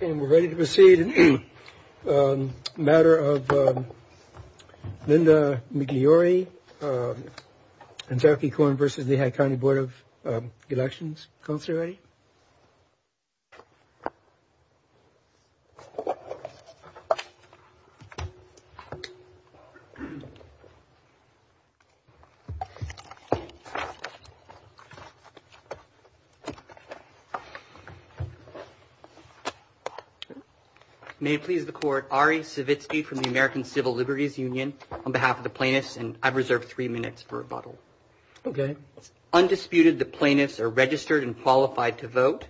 And we're ready to proceed in the matter of Linda Migliori, Antarctic Corn v. Lehigh County Board of Elections. Councilor Ray? May it please the Court, Ari Savitsky from the American Civil Liberties Union on behalf of the plaintiffs, and I've reserved three minutes for rebuttal. Okay. Undisputed, the plaintiffs are registered and qualified to vote,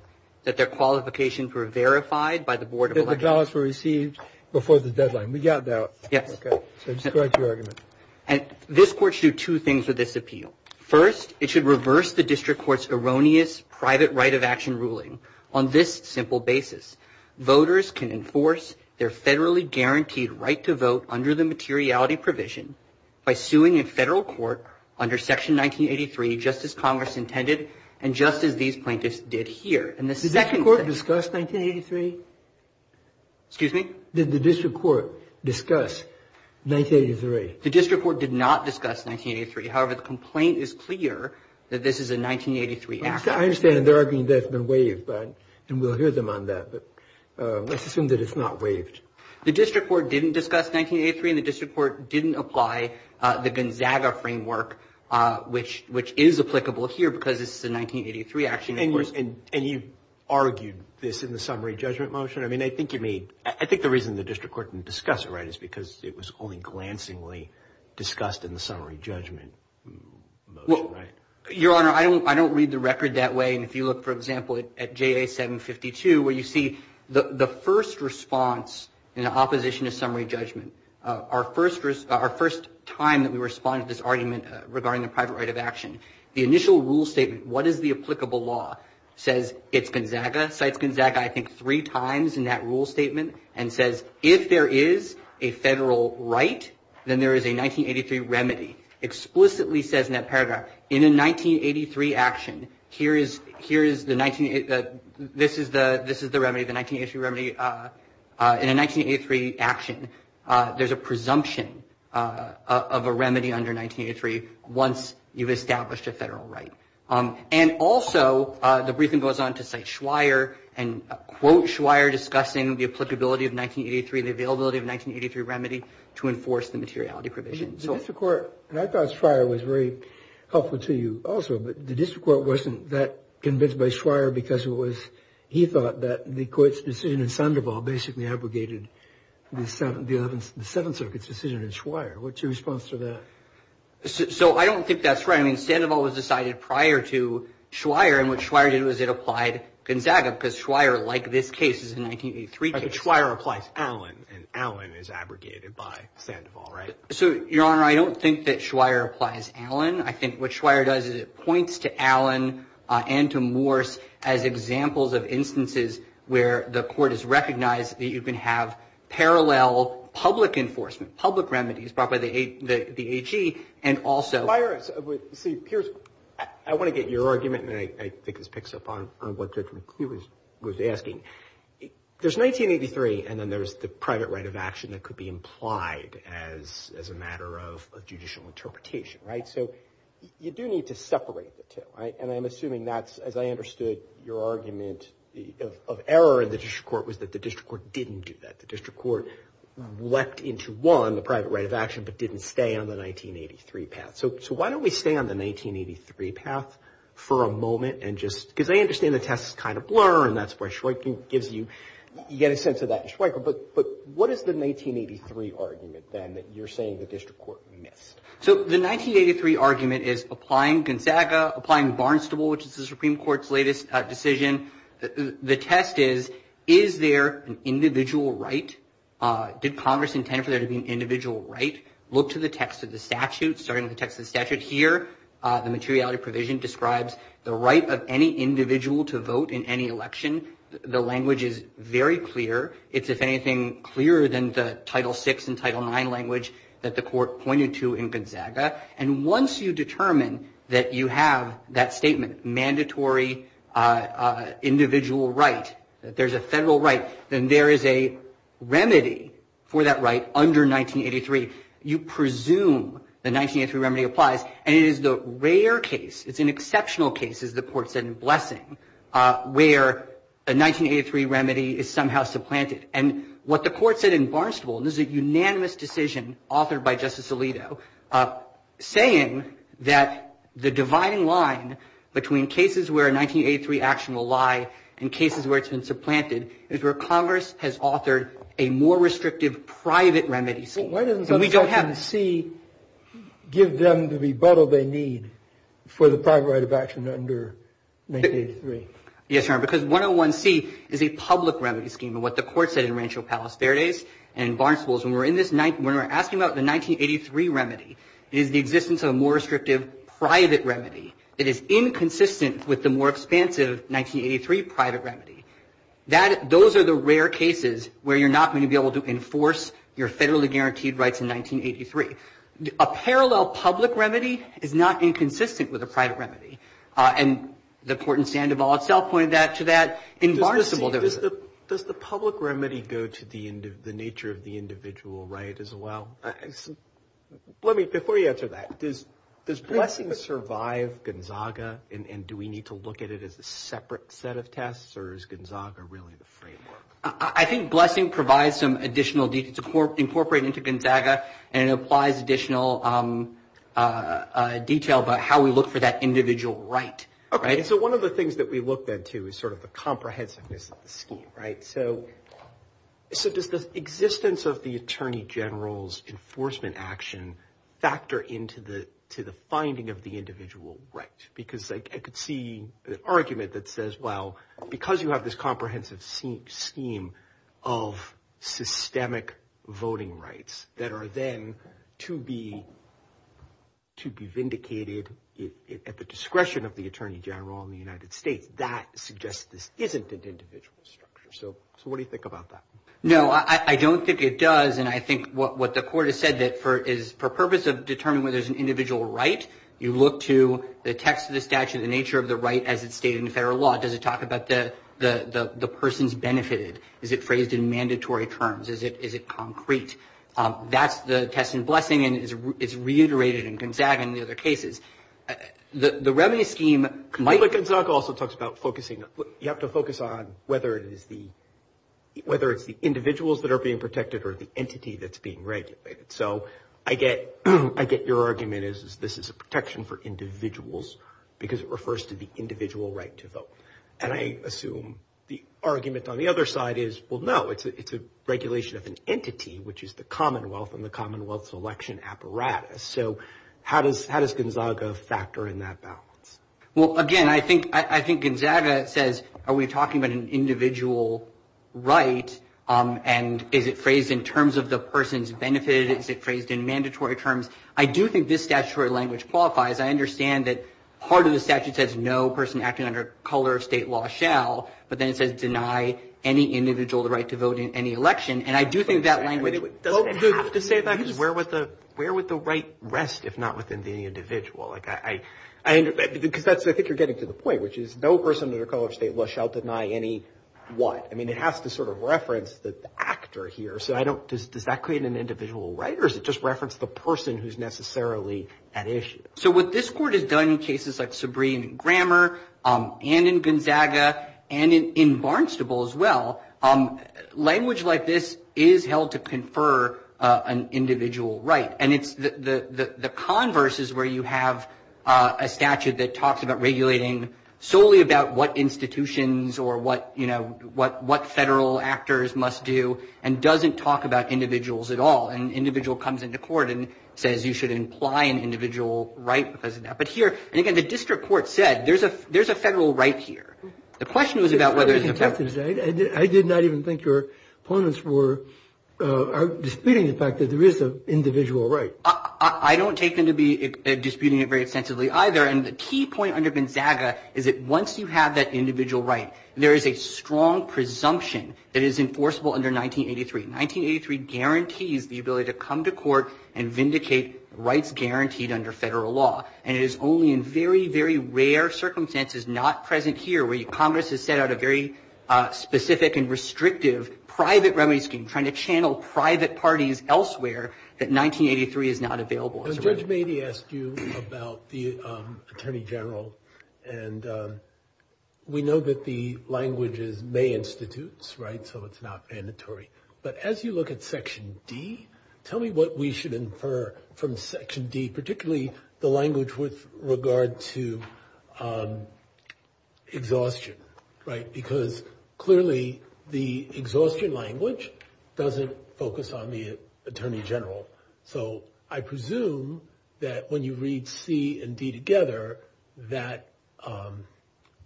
that their qualifications were verified by the Board of Elections. That the ballots were received before the deadline. We got that. Yes. Okay. So correct your argument. And this Court should do two things with this appeal. First, it should reverse the District Court's erroneous private right of action ruling on this simple basis. Voters can enforce their federally guaranteed right to vote under the materiality provision by suing a federal court under Section 1983, just as Congress intended, and just as these plaintiffs did here. Did the District Court discuss 1983? Excuse me? Did the District Court discuss 1983? The District Court did not discuss 1983. However, the complaint is clear that this is a 1983 action. I understand the argument has been waived, and we'll hear them on that, but let's assume that it's not waived. The District Court didn't discuss 1983, and the District Court didn't apply the Gonzaga framework, which is applicable here because it's the 1983 action. And you argued this in the summary judgment motion? I mean, I think the reason the District Court didn't discuss it, right, is because it was only glancingly discussed in the summary judgment motion, right? Your Honor, I don't read the record that way. If you look, for example, at JA 752, where you see the first response in opposition to summary judgment, our first time that we responded to this argument regarding the private right of action, the initial rule statement, what is the applicable law, says it's Gonzaga. Cites Gonzaga, I think, three times in that rule statement, and says if there is a federal right, then there is a 1983 remedy. Explicitly says in that paragraph, in a 1983 action, this is the remedy, the 1983 remedy. In a 1983 action, there's a presumption of a remedy under 1983 once you've established a federal right. And also, the briefing goes on to cite Schweier and quote Schweier discussing the applicability of 1983, the availability of 1983 remedy to enforce the materiality provision. The District Court, and I thought Schweier was very helpful to you also, but the District Court wasn't that convinced by Schweier because it was, he thought that the court's decision in Sandoval basically abrogated the Seventh Circuit's decision in Schweier. What's your response to that? So, I don't think that's right. I mean, Sandoval was decided prior to Schweier, and what Schweier did was it applied Gonzaga, because Schweier, like this case, is a 1983 case. Schweier applies Allen, and Allen is abrogated by Sandoval, right? So, Your Honor, I don't think that Schweier applies Allen. I think what Schweier does is it points to Allen and to Morse as examples of instances where the court has recognized that you can have parallel public enforcement, public remedies brought by the AG, and also- I want to get your argument, and I think this picks up on what Judge McCleary was asking. There's 1983, and then there's the private right of action that could be implied as a matter of judicial interpretation, right? So, you do need to separate the two, right? And I'm assuming that, as I understood your argument of error in the District Court, was that the District Court didn't do that. The District Court leapt into one, the private right of action, but didn't stay on the 1983 path. So, why don't we stay on the 1983 path for a moment and just- because I understand the test is kind of blur, and that's why Schweiker gives you- you get a sense of that in Schweiker, but what is the 1983 argument, then, that you're saying the District Court missed? So, the 1983 argument is applying Gonzaga, applying Barnstable, which is the Supreme Court's latest decision. The test is, is there an individual right? Did Congress intend for there to be an individual right? Look to the text of the statute, starting with the text of the statute here. The materiality provision describes the right of any individual to vote in any election. The language is very clear. It's, if anything, clearer than the Title VI and Title IX language that the Court pointed to in Gonzaga. And once you determine that you have that statement, mandatory individual right, that there's a federal right, then there is a remedy for that right under 1983. You presume the 1983 remedy applies, and it is the rare case, it's an exceptional case, as the Court said in Blessing, where a 1983 remedy is somehow supplanted. And what the Court said in Barnstable, and this is a unanimous decision authored by Justice Alito, saying that the dividing line between cases where a 1983 action will lie and cases where it's been supplanted is where Congress has authored a more restrictive private remedy scheme. Why doesn't Section C give them the rebuttal they need for the private right of action under 1983? Yes, Your Honor, because 101C is a public remedy scheme. And what the Court said in Rancho Palos Verdes and Barnstable is when we're asking about the 1983 remedy, it is the existence of a more restrictive private remedy that is inconsistent with the more expansive 1983 private remedy. Those are the rare cases where you're not going to be able to enforce your federally guaranteed rights in 1983. A parallel public remedy is not inconsistent with a private remedy. And the Court in Sandoval itself pointed to that in Barnstable. Does the public remedy go to the nature of the individual right as well? Before you answer that, does Blessing survive Gonzaga, and do we need to look at it as a separate set of tests, or is Gonzaga really the framework? I think Blessing provides some additional detail. It's incorporated into Gonzaga, and it applies additional detail about how we look for that individual right. So one of the things that we looked into is sort of the comprehensiveness of the scheme, right? So does the existence of the Attorney General's enforcement action factor into the finding of the individual right? Because I could see an argument that says, well, because you have this comprehensive scheme of systemic voting rights that are then to be vindicated at the discretion of the Attorney General in the United States, that suggests this isn't an individual structure. So what do you think about that? No, I don't think it does, and I think what the Court has said is for the purpose of determining whether there's an individual right, you look to the text of the statute, the nature of the right as it's stated in federal law. Does it talk about the person's benefit? Is it phrased in mandatory terms? Is it concrete? That's the test in Blessing, and it's reiterated in Gonzaga and the other cases. The revenue scheme might be- But Gonzaga also talks about focusing. You have to focus on whether it's the individuals that are being protected or the entity that's being regulated. So I get your argument is this is a protection for individuals because it refers to the individual right to vote, and I assume the argument on the other side is, well, no, it's a regulation of an entity, which is the Commonwealth and the Commonwealth's election apparatus. So how does Gonzaga factor in that balance? Well, again, I think Gonzaga says, are we talking about an individual right, and is it phrased in terms of the person's benefit? Is it phrased in mandatory terms? I do think this statutory language qualifies. I understand that part of the statute says no person acting under color of state law shall, but then it says deny any individual the right to vote in any election. And I do think that language- Where would the right rest if not within the individual? I think you're getting to the point, which is no person under the color of state law shall deny any what. I mean, it has to sort of reference the actor here, so does that create an individual right, or does it just reference the person who's necessarily at issue? So what this court has done in cases like Sabreen and Grammar and in Gonzaga and in Barnstable as well, language like this is held to confer an individual right, and the converse is where you have a statute that talks about regulating solely about what institutions or what federal actors must do and doesn't talk about individuals at all, and an individual comes into court and says you should imply an individual right because of that. But here, and again, the district court said there's a federal right here. The question was about whether- I did not even think your opponents were disputing the fact that there is an individual right. I don't take them to be disputing it very extensively either, and the key point under Gonzaga is that once you have that individual right, there is a strong presumption that it is enforceable under 1983. 1983 guarantees the ability to come to court and vindicate rights guaranteed under federal law, and it is only in very, very rare circumstances, not present here, where Congress has set out a very specific and restrictive private remedy scheme, trying to channel private parties elsewhere that 1983 is not available. Judge Beatty asked you about the Attorney General, and we know that the language is may institutes, right, so it's not mandatory. But as you look at Section D, tell me what we should infer from Section D, particularly the language with regard to exhaustion, right, because clearly the exhaustion language doesn't focus on the Attorney General. So I presume that when you read C and D together, that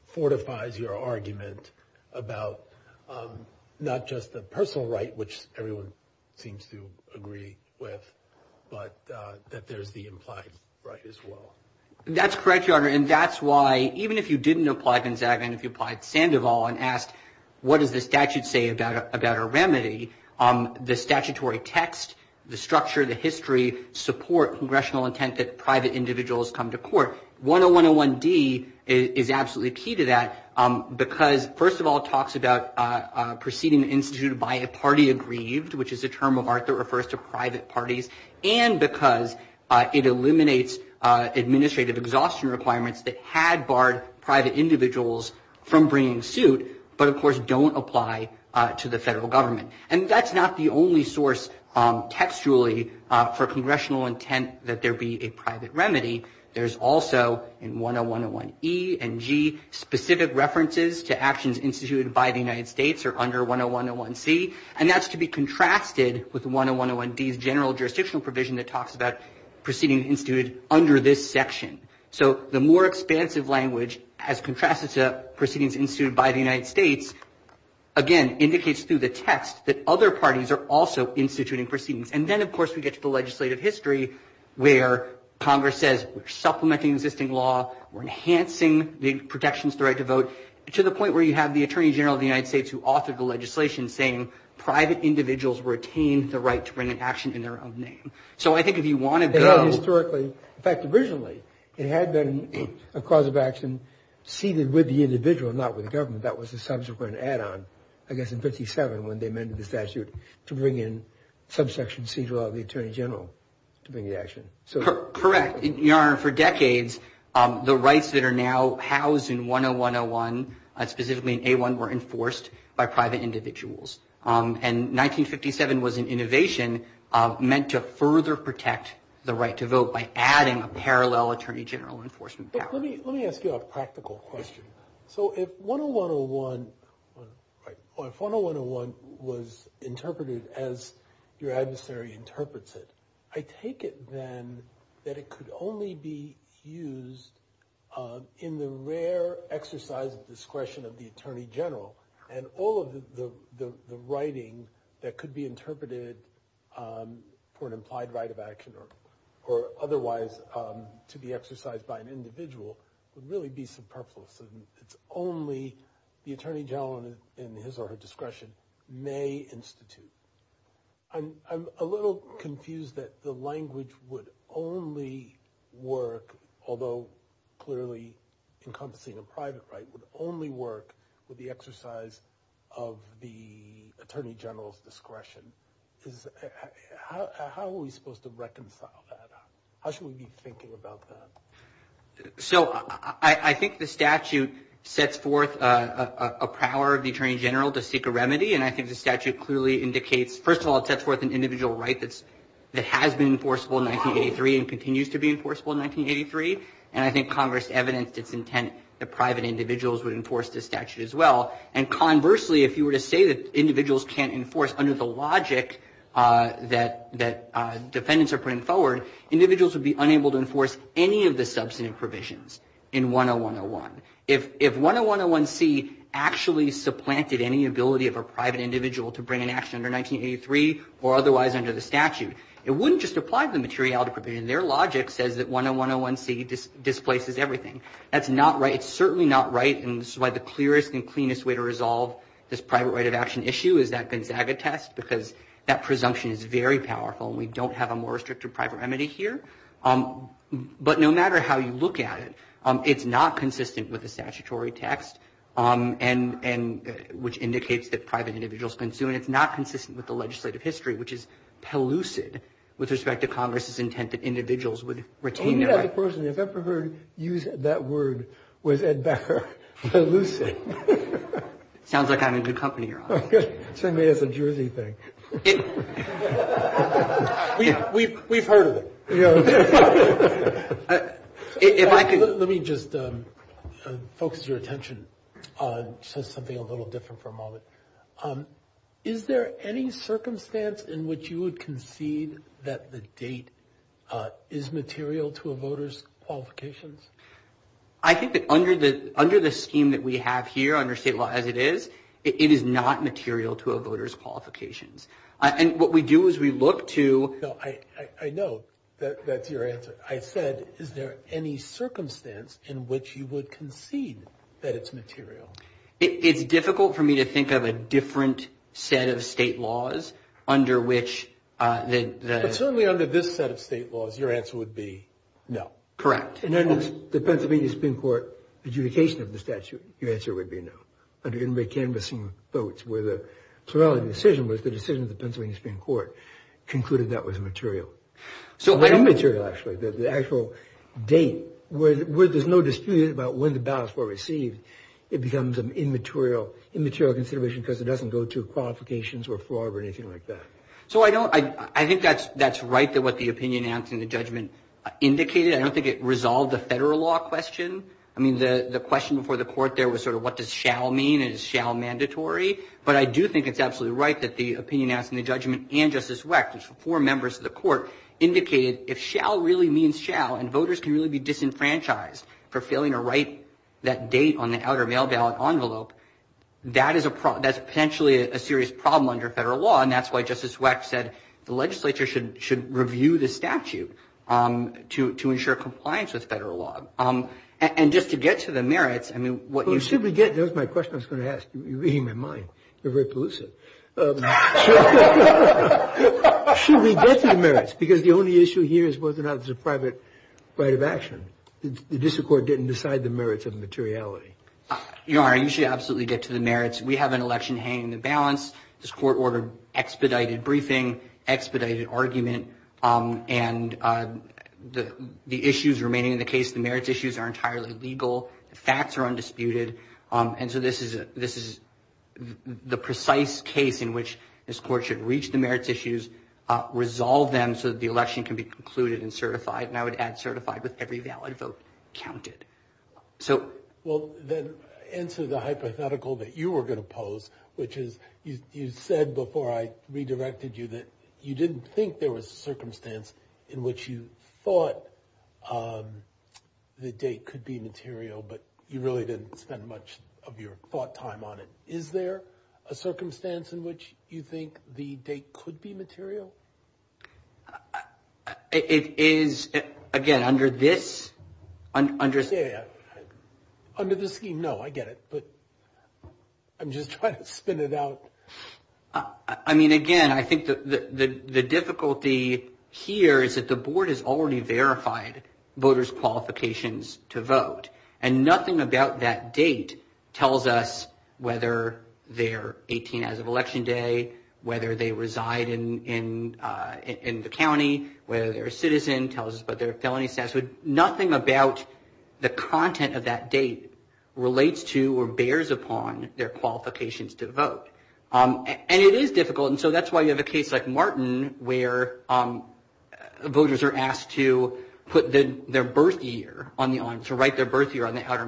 fortifies your argument about not just the personal right, which everyone seems to agree with, but that there's the implied right as well. That's correct, Your Honor, and that's why even if you didn't apply Gonzaga and if you applied Sandoval and asked what does the statute say about a remedy, the statutory text, the structure, the history, support congressional intent that private individuals come to court. 10101D is absolutely key to that because, first of all, talks about proceeding instituted by a party aggrieved, which is a term of art that refers to private parties, and because it eliminates administrative exhaustion requirements that had barred private individuals from bringing suit, but of course don't apply to the federal government. And that's not the only source textually for congressional intent that there be a private remedy. There's also, in 10101E and G, specific references to actions instituted by the United States or under 10101C, and that's to be contrasted with 10101D's general jurisdictional provision that talks about proceedings instituted under this section. So the more expansive language as contrasted to proceedings instituted by the United States, again, indicates through the text that other parties are also instituting proceedings. And then, of course, we get to the legislative history where Congress says we're supplementing existing law, we're enhancing the protections to the right to vote, to the point where you have the Attorney General of the United States who authored the legislation saying private individuals were attained the right to bring an action in their own name. So I think if you want to go... Historically, in fact, originally, it had been a cause of action seated with the individual, not with government. That was a subsequent add-on, I guess in 57, when they amended the statute to bring in subsection C to allow the Attorney General to bring the action. Correct. Your Honor, for decades, the rights that are now housed in 10101, specifically in A1, were enforced by private individuals. And 1957 was an innovation meant to further protect the right to vote by adding a parallel Attorney General enforcement power. Let me ask you a practical question. So if 10101 was interpreted as your adversary interprets it, I take it then that it could only be used in the rare exercise of discretion of the Attorney General, and all of the writing that could be interpreted for an implied right of action or otherwise to be exercised by an individual would really be superfluous. It's only the Attorney General in his or her discretion may institute. I'm a little confused that the language would only work, although clearly encompassing a private right, would only work with the exercise of the Attorney General's discretion. How are we supposed to reconcile that? How should we be thinking about that? So I think the statute sets forth a power of the Attorney General to seek a remedy, and I think the statute clearly indicates, first of all, it sets forth an individual right that has been enforceable in 1983 and continues to be enforceable in 1983, and I think Congress evidenced its intent that private individuals would enforce this statute as well. And conversely, if you were to say that individuals can't enforce under the logic that defendants are putting forward, individuals would be unable to enforce any of the substantive provisions in 10101. If 10101C actually supplanted any ability of a private individual to bring an action under 1983 or otherwise under the statute, it wouldn't just apply the materiality provision. Their logic says that 10101C displaces everything. That's not right. It's certainly not right, and this is why the clearest and cleanest way to resolve this private right of action issue is that Benghazi text because that presumption is very powerful and we don't have a more restrictive private remedy here. But no matter how you look at it, it's not consistent with the statutory text, which indicates that private individuals can sue, and it's not consistent with the legislative history, which is pellucid with respect to Congress's intent that individuals would retain their right. Maybe that person, if I've ever heard you use that word, was Ed Becker, pellucid. Sounds like I'm in good company or something. You're saying that as a Jersey thing. We've heard of it. Let me just focus your attention on something a little different for a moment. Is there any circumstance in which you would concede that the date is material to a voter's qualifications? I think that under the scheme that we have here, under state law as it is, it is not material to a voter's qualifications. What we do is we look to... I know that's your answer. I said, is there any circumstance in which you would concede that it's material? It's difficult for me to think of a different set of state laws under which... Certainly under this set of state laws, your answer would be no. Correct. And then the Pennsylvania Supreme Court adjudication of the statute, your answer would be no. Under the canvas and votes, where the plurality of the decision was the decision of the Pennsylvania Supreme Court, concluded that was material. Or immaterial, actually. The actual date, where there's no dispute about when the ballots were received, it becomes an immaterial consideration because it doesn't go to qualifications or fraud or anything like that. I think that's right, what the opinion, answer, and the judgment indicated. I don't think it resolved the federal law question. I mean, the question before the court there was sort of, what does shall mean? Is shall mandatory? But I do think it's absolutely right that the opinion, answer, and the judgment and Justice Weck, there's four members of the court, indicated if shall really means shall and voters can really be disenfranchised for failing to write that date on the outer mail ballot envelope, that is potentially a serious problem under federal law. And that's why Justice Weck said the legislature should review the statute to ensure compliance with federal law. And just to get to the merits, I mean, what you should be getting, that was my question I was going to ask. You're reading my mind. You're very elusive. Should we get to the merits? Because the only issue here is whether or not it's a private right of action. The district court didn't decide the merits of materiality. You're right, you should absolutely get to the merits. We have an election hanging in the balance. This court ordered expedited briefing, expedited argument, and the issues remaining in the case, the merits issues are entirely legal. The facts are undisputed. And so this is the precise case in which this court should reach the merits issues, resolve them so that the election can be concluded and certified. And I would add certified with every valid vote counted. Well, then answer the hypothetical that you were going to pose, which is you said before I redirected you that you didn't think there was a circumstance in which you thought the date could be material, but you really didn't spend much of your thought time on it. Is there a circumstance in which you think the date could be material? It is, again, under this. Yeah, yeah. Under the scheme, no, I get it. But I'm just trying to spin it out. I mean, again, I think the difficulty here is that the board has already verified voters' qualifications to vote. And nothing about that date tells us whether they're 18 as of election day, whether they reside in the county, whether they're a citizen, tells us about their felony status. Nothing about the content of that date relates to or bears upon their qualifications to vote. And it is difficult, and so that's why you have a case like Martin where voters are asked to put their birth year, to write their birth year on the outer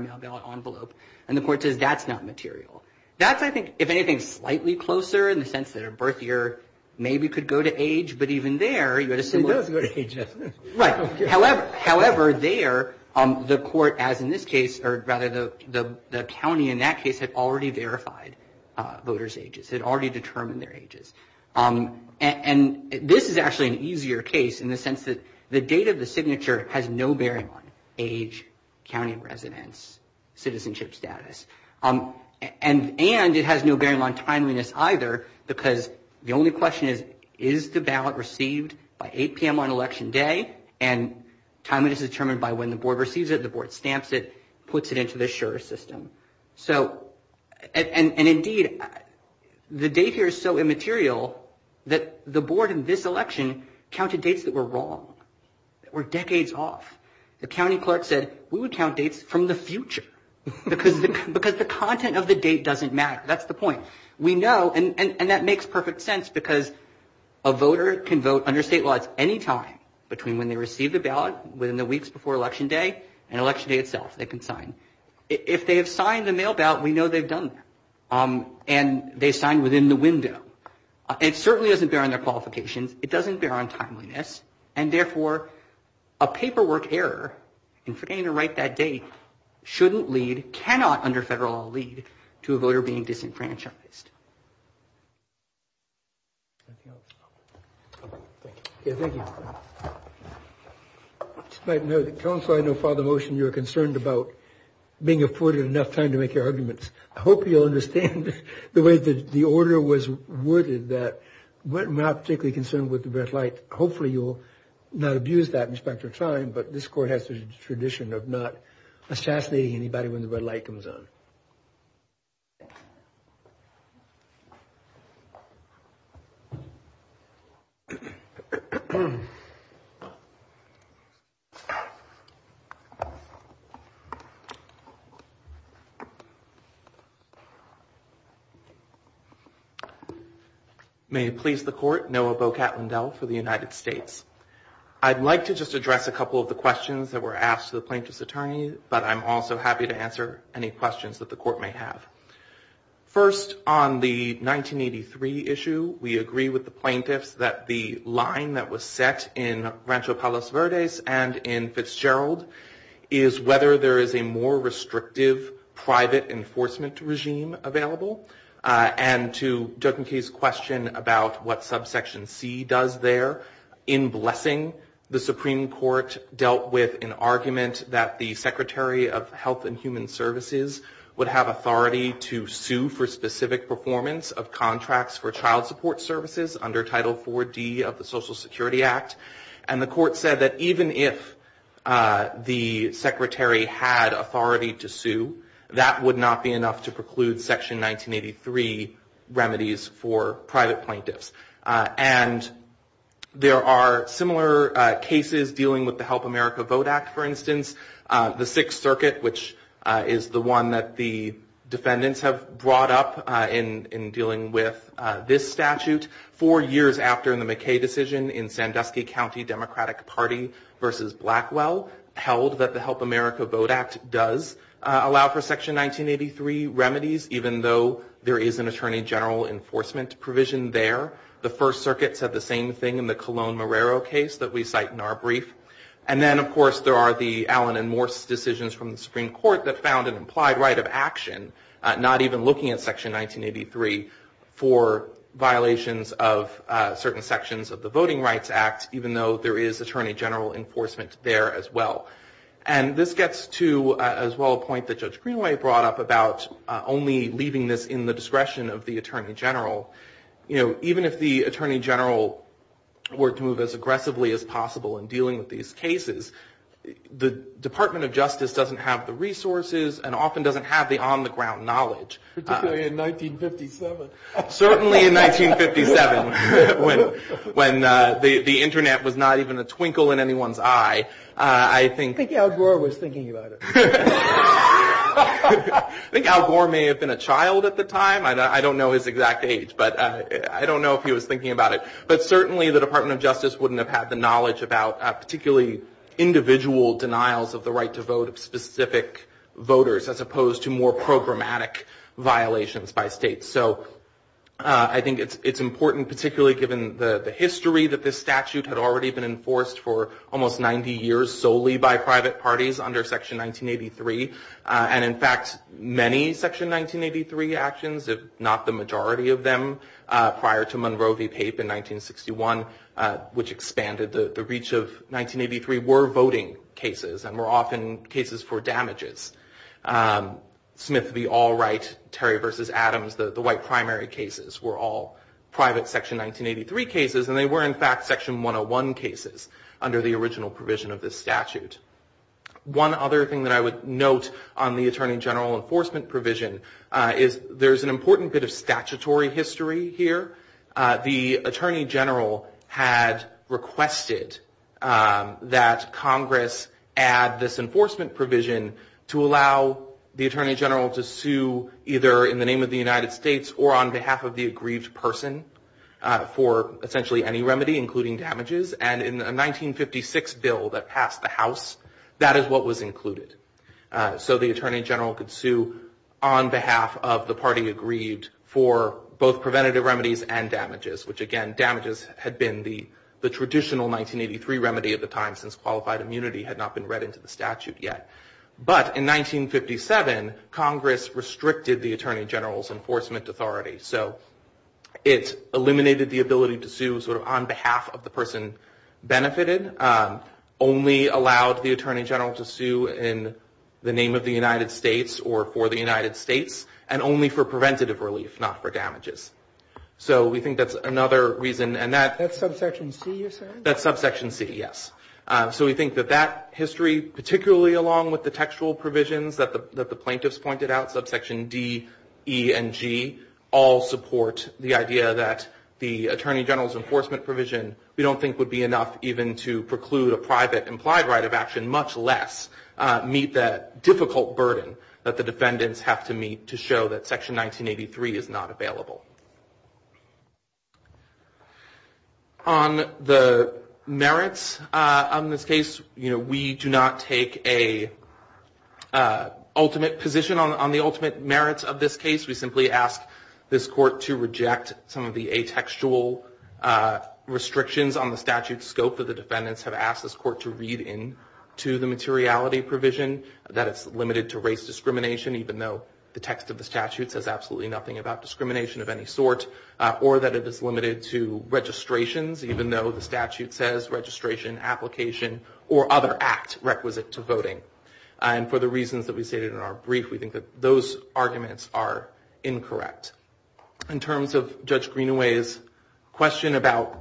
envelope, and the court says that's not material. That's, I think, if anything, slightly closer in the sense that a birth year maybe could go to age, but even there, you would assume... It does go to age, doesn't it? Right. However, there, the court, as in this case, or rather the county in that case had already verified voters' ages, had already determined their ages. And this is actually an easier case in the sense that the date of the signature has no bearing on age, county of residence, citizenship status. And it has no bearing on timeliness either because the only question is, is the ballot received by 8 p.m. on election day? And timeliness is determined by when the board receives it. The board stamps it, puts it into the sure system. So, and indeed, the date here is so immaterial that the board in this election counted dates that were wrong, that were decades off. The county clerk said, we would count dates from the future because the content of the date doesn't matter. That's the point. We know, and that makes perfect sense because a voter can vote under state laws any time between when they receive the ballot within the weeks before election day and election day itself, they can sign. If they have signed the mail ballot, we know they've done it. And they signed within the window. It certainly doesn't bear on their qualification. It doesn't bear on timeliness. And therefore, a paperwork error in forgetting to write that date shouldn't lead, cannot under federal law lead, to a voter being disenfranchised. Thank you. Yeah, thank you. I know, counsel, I know for the motion you're concerned about being afforded enough time to make your arguments. I hope you'll understand the way the order was worded that we're not particularly concerned with the red light. Hopefully, you'll not abuse that in the span of time, but this court has a tradition of not assassinating anybody when the red light comes on. Thank you. May it please the court, Noah Bocatendel for the United States. I'd like to just address a couple of the questions that were asked to the plaintiff's attorney, but I'm also happy to answer any questions that the court may have. First, on the 1983 issue, we agree with the plaintiff that the line that was set in Rancho Palos Verdes and in Fitzgerald is whether there is a more restrictive private enforcement regime available. And to Jochenke's question about what subsection C does there, in blessing, the Supreme Court dealt with an argument that the Secretary of Health and Human Services would have authority to sue for specific performance of contracts for child support services under Title IV-D of the Social Security Act, and the court said that even if the Secretary had authority to sue, that would not be enough to preclude Section 1983 remedies for private plaintiffs. And there are similar cases dealing with the Help America Vote Act, for instance. The Sixth Circuit, which is the one that the defendants have brought up in dealing with this statute, four years after the McKay decision in Sandusky County Democratic Party versus Blackwell, held that the Help America Vote Act does allow for Section 1983 remedies, even though there is an attorney general enforcement provision there. The First Circuit said the same thing in the Colon-Morero case that we cite in our brief. And then, of course, there are the Allen and Morse decisions from the Supreme Court that found an implied right of action, not even looking at Section 1983, for violations of certain sections of the Voting Rights Act, even though there is attorney general enforcement there as well. And this gets to, as well, a point that Judge Greenway brought up about only leaving this in the discretion of the attorney general. Even if the attorney general were to move as aggressively as possible in dealing with these cases, the Department of Justice doesn't have the resources and often doesn't have the on-the-ground knowledge. Particularly in 1957. Certainly in 1957, when the internet was not even a twinkle in anyone's eye. I think Al Gore was thinking about it. I think Al Gore may have been a child at the time. I don't know his exact age, but I don't know if he was thinking about it. But certainly the Department of Justice wouldn't have had the knowledge about particularly individual denials of the right to vote of specific voters, as opposed to more programmatic violations by states. So I think it's important, particularly given the history that this statute had already been enforced for almost 90 years solely by private parties under Section 1983. And, in fact, many Section 1983 actions, if not the majority of them, prior to Monroe v. Tate in 1961, which expanded the reach of 1983, were voting cases and were often cases for damages. Smith v. Allwright, Terry v. Adams, the white primary cases, were all private Section 1983 cases, and they were, in fact, Section 101 cases under the original provision of this statute. One other thing that I would note on the Attorney General enforcement provision is there's an important bit of statutory history here. The Attorney General had requested that Congress add this enforcement provision to allow the Attorney General to sue either in the name of the United States or on behalf of the aggrieved person for essentially any remedy, including damages. And in a 1956 bill that passed the House, that is what was included. So the Attorney General could sue on behalf of the party aggrieved for both preventative remedies and damages, which, again, damages had been the traditional 1983 remedy at the time since qualified immunity had not been read into the statute yet. But in 1957, Congress restricted the Attorney General's enforcement authority. So it eliminated the ability to sue sort of on behalf of the person benefited, only allowed the Attorney General to sue in the name of the United States or for the United States, and only for preventative relief, not for damages. So we think that's another reason, and that... That's subsection C, you said? That's subsection C, yes. So we think that that history, particularly along with the textual provisions that the plaintiffs pointed out, subsection D, E, and G, all support the idea that the Attorney General's enforcement provision we don't think would be enough even to preclude a private implied right of action, much less meet that difficult burden that the defendants have to meet to show that Section 1983 is not available. On the merits on this case, you know, we do not take a ultimate position on the ultimate merits of this case. We simply ask this Court to reject some of the atextual restrictions on the statute scope that the defendants have asked this Court to read in to the materiality provision, that it's limited to race discrimination, even though the text of the statute says absolutely nothing about discrimination of any sort, or that it is limited to registrations, even though the statute says registration, application, or other act requisite to voting. And for the reasons that we stated in our brief, we think that those arguments are incorrect. In terms of Judge Greenaway's question about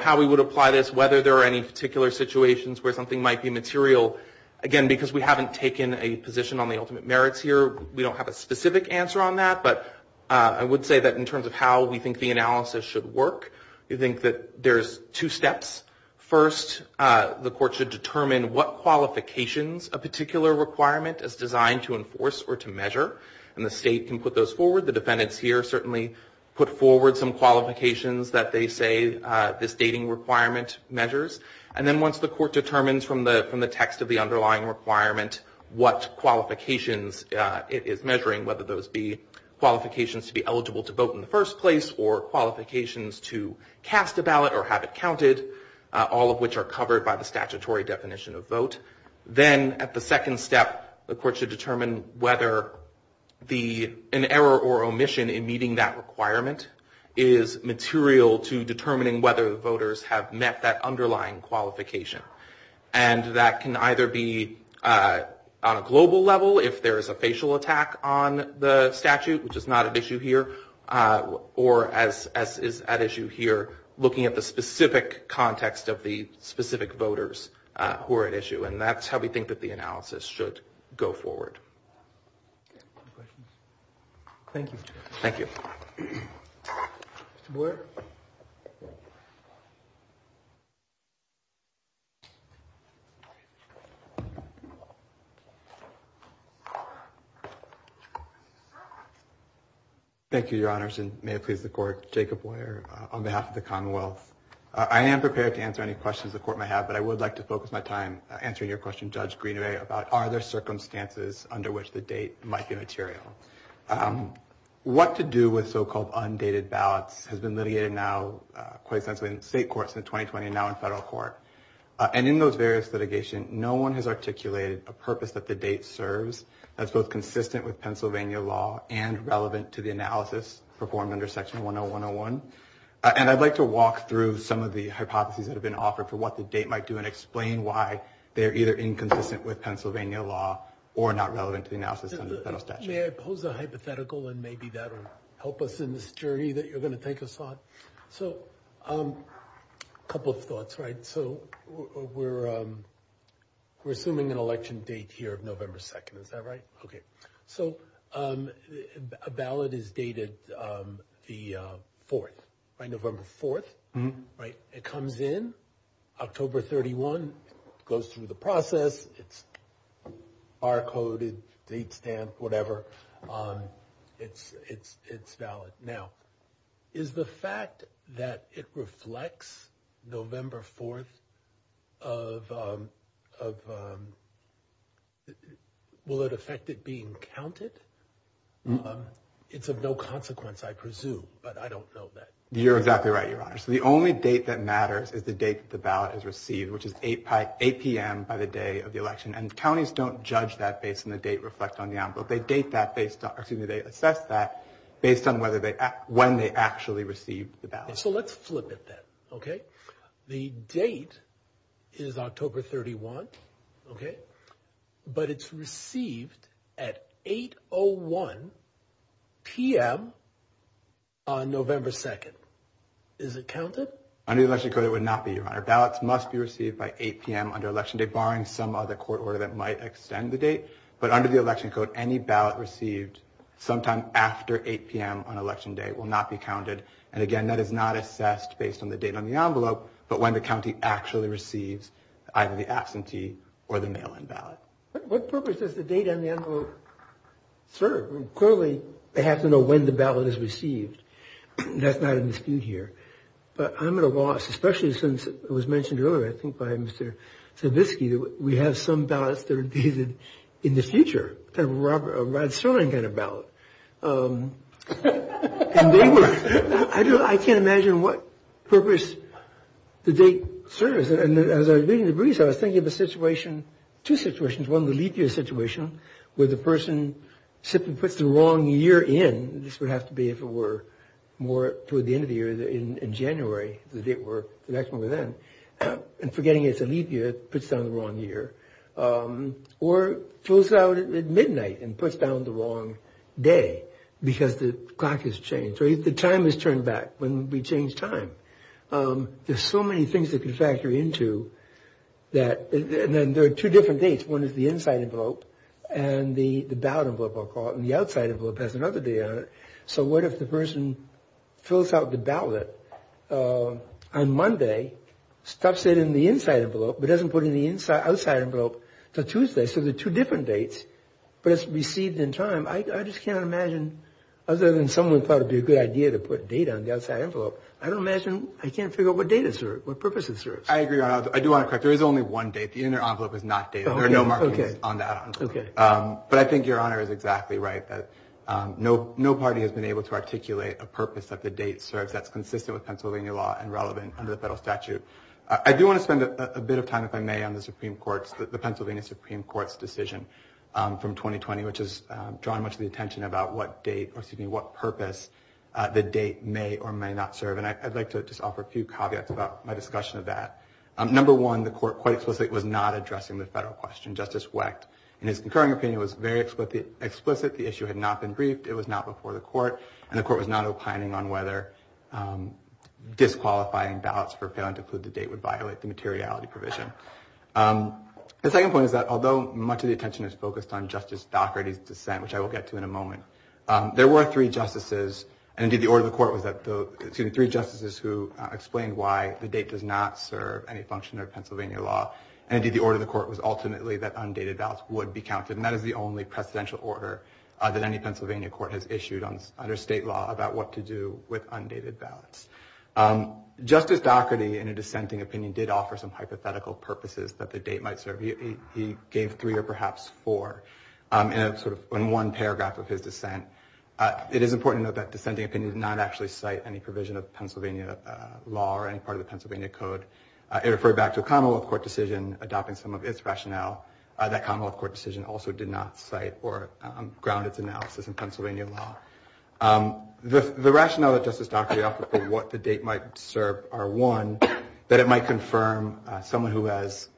how we would apply this, whether there are any particular situations where something might be material, again, because we haven't taken a position on the ultimate merits here, we don't have a specific answer on that, but I would say that in terms of how we think the analysis should work, we think that there's two steps. First, the Court should determine what qualifications a particular requirement is designed to enforce or to measure, and the state can put those forward. The defendants here certainly put forward some qualifications that they say this dating requirement measures, and then once the Court determines from the text of the underlying requirement what qualifications it's measuring, whether those be qualifications to be eligible to vote in the first place, or qualifications to cast a ballot or have it counted, all of which are covered by the statutory definition of vote, then at the second step, the Court should determine whether an error or omission in meeting that requirement is material to determining whether voters have met that underlying qualification, and that can either be on a global level if there is a facial attack on the statute, which is not at issue here, or as is at issue here, looking at the specific context of the specific voters who are at issue, and that's how we think that the analysis should go forward. Thank you. Thank you. Mr. Boyer. Thank you, Your Honors, and may it please the Court, Jacob Boyer on behalf of the Commonwealth. I am prepared to answer any questions the Court may have, but I would like to focus my time answering your question, Judge Greenaway, about are there circumstances under which the date might be material. What to do with so-called undated ballots has been litigated now, quite specifically in state courts in 2020 and now in federal court, and in those various litigation, no one has articulated a purpose that the date serves that's both consistent with Pennsylvania law and relevant to the analysis performed under Section 10101, and I'd like to walk through some of the hypotheses that have been offered for what the date might do and explain why they're either inconsistent with Pennsylvania law or not relevant to the analysis under the federal statute. May I pose a hypothetical, and maybe that'll help us in this journey that you're going to take us on? So a couple of thoughts, right? So we're assuming an election date here of November 2nd. Is that right? Okay. So a ballot is dated the 4th, right? November 4th, right? It comes in October 31, goes through the process. It's bar-coded, state-stamped, whatever. It's valid. Now, is the fact that it reflects November 4th of... Will it affect it being counted? It's of no consequence, I presume, but I don't know that. You're exactly right, Your Honor. So the only date that matters is the date that the ballot is received, which is 8 p.m. by the day of the election. And counties don't judge that based on the date reflected on the outpost. They assess that based on when they actually received the ballot. So let's flip it then, okay? The date is October 31, okay? But it's received at 8.01 p.m. on November 2nd. Is it counted? Under the election code, it would not be, Your Honor. Ballots must be received by 8 p.m. under election day, barring some other court order that might extend the date. But under the election code, any ballot received sometime after 8 p.m. on election day will not be counted. And again, that is not assessed based on the date on the envelope, but when the county actually received either the absentee or the mail-in ballot. What purpose does the date on the envelope serve? Clearly, they have to know when the ballot is received. That's not in dispute here. But I'm at a loss, especially since it was mentioned earlier, I think by Mr. Savitsky, we have some ballots that are dated in the future, kind of a Rod Sterling kind of ballot. And they were... I can't imagine what purpose the date serves. And as I was reading the briefs, I was thinking of a situation, two situations. One, the leap year situation where the person simply puts the wrong year in. This would have to be if it were more toward the end of the year, in January, the date where the election was then. And forgetting it's a leap year puts down the wrong year. Or it flows out at midnight and puts down the wrong day because the clock has changed. Or if the time has turned back, when we change time. There's so many things that can factor into that. And then there are two different dates. One is the inside envelope and the ballot envelope, I'll call it, and the outside envelope has another day on it. So what if the person fills out the ballot on Monday, stuffs it in the inside envelope, but doesn't put it in the outside envelope until Tuesday? So there are two different dates, but it's received in time. I just can't imagine, other than someone thought it would be a good idea to put date on the outside envelope, I can't figure out what purpose it serves. I agree. I do want to correct you. There is only one date. The envelope is not dated. There are no markings on that envelope. But I think your honor is exactly right. No party has been able to articulate a purpose that the date serves that's consistent with Pennsylvania law and relevant under the federal statute. I do want to spend a bit of time, if I may, on the Pennsylvania Supreme Court's decision from 2020, which has drawn much of the attention about what date, or excuse me, what purpose the date may or may not serve. And I'd like to just offer a few caveats about my discussion of that. Number one, the court quite specifically was not addressing the federal question. Justice Wecht, in his concurring opinion, was very explicit. The issue had not been briefed. It was not before the court. And the court was not opining on whether disqualifying ballots for parent-included date would violate the materiality provision. The second point is that, although much of the attention is focused on Justice Docherty's dissent, which I will get to in a moment, there were three justices, and indeed the order of the court was that the three justices who explained why the date does not serve any function of Pennsylvania law, and indeed the order of the court was ultimately that undated ballots would be counted. And that is the only presidential order that any Pennsylvania court has issued under state law about what to do with undated ballots. Justice Docherty, in a dissenting opinion, did offer some hypothetical purposes that the date might serve. He gave three or perhaps four in one paragraph of his dissent. It is important to note that dissenting opinions do not actually cite any provision of Pennsylvania law or any part of the Pennsylvania Code. It referred back to a Commonwealth Court decision adopting some of its rationale. That Commonwealth Court decision also did not cite or ground its analysis in Pennsylvania law. The rationale that Justice Docherty offered for what the date might serve are, one, that it might confirm someone who has,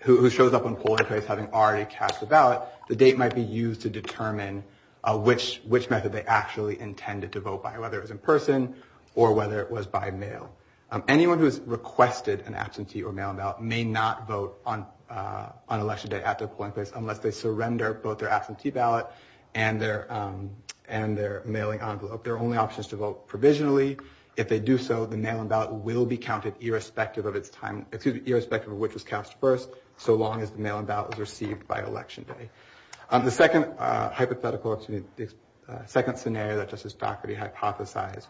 who shows up on the polling place having already cast a ballot, the date might be used to determine which method they actually intended to vote by, whether it was in person or whether it was by mail. Anyone who has requested an absentee or mail-in ballot may not vote on Election Day after the polling place unless they surrender both their absentee ballot and their mailing envelope. There are only options to vote provisionally. If they do so, the mail-in ballot will be counted irrespective of its time, excuse me, irrespective of which was cast first so long as the mail-in ballot was received by Election Day. The second hypothetical, excuse me, second scenario that Justice Docherty hypothesized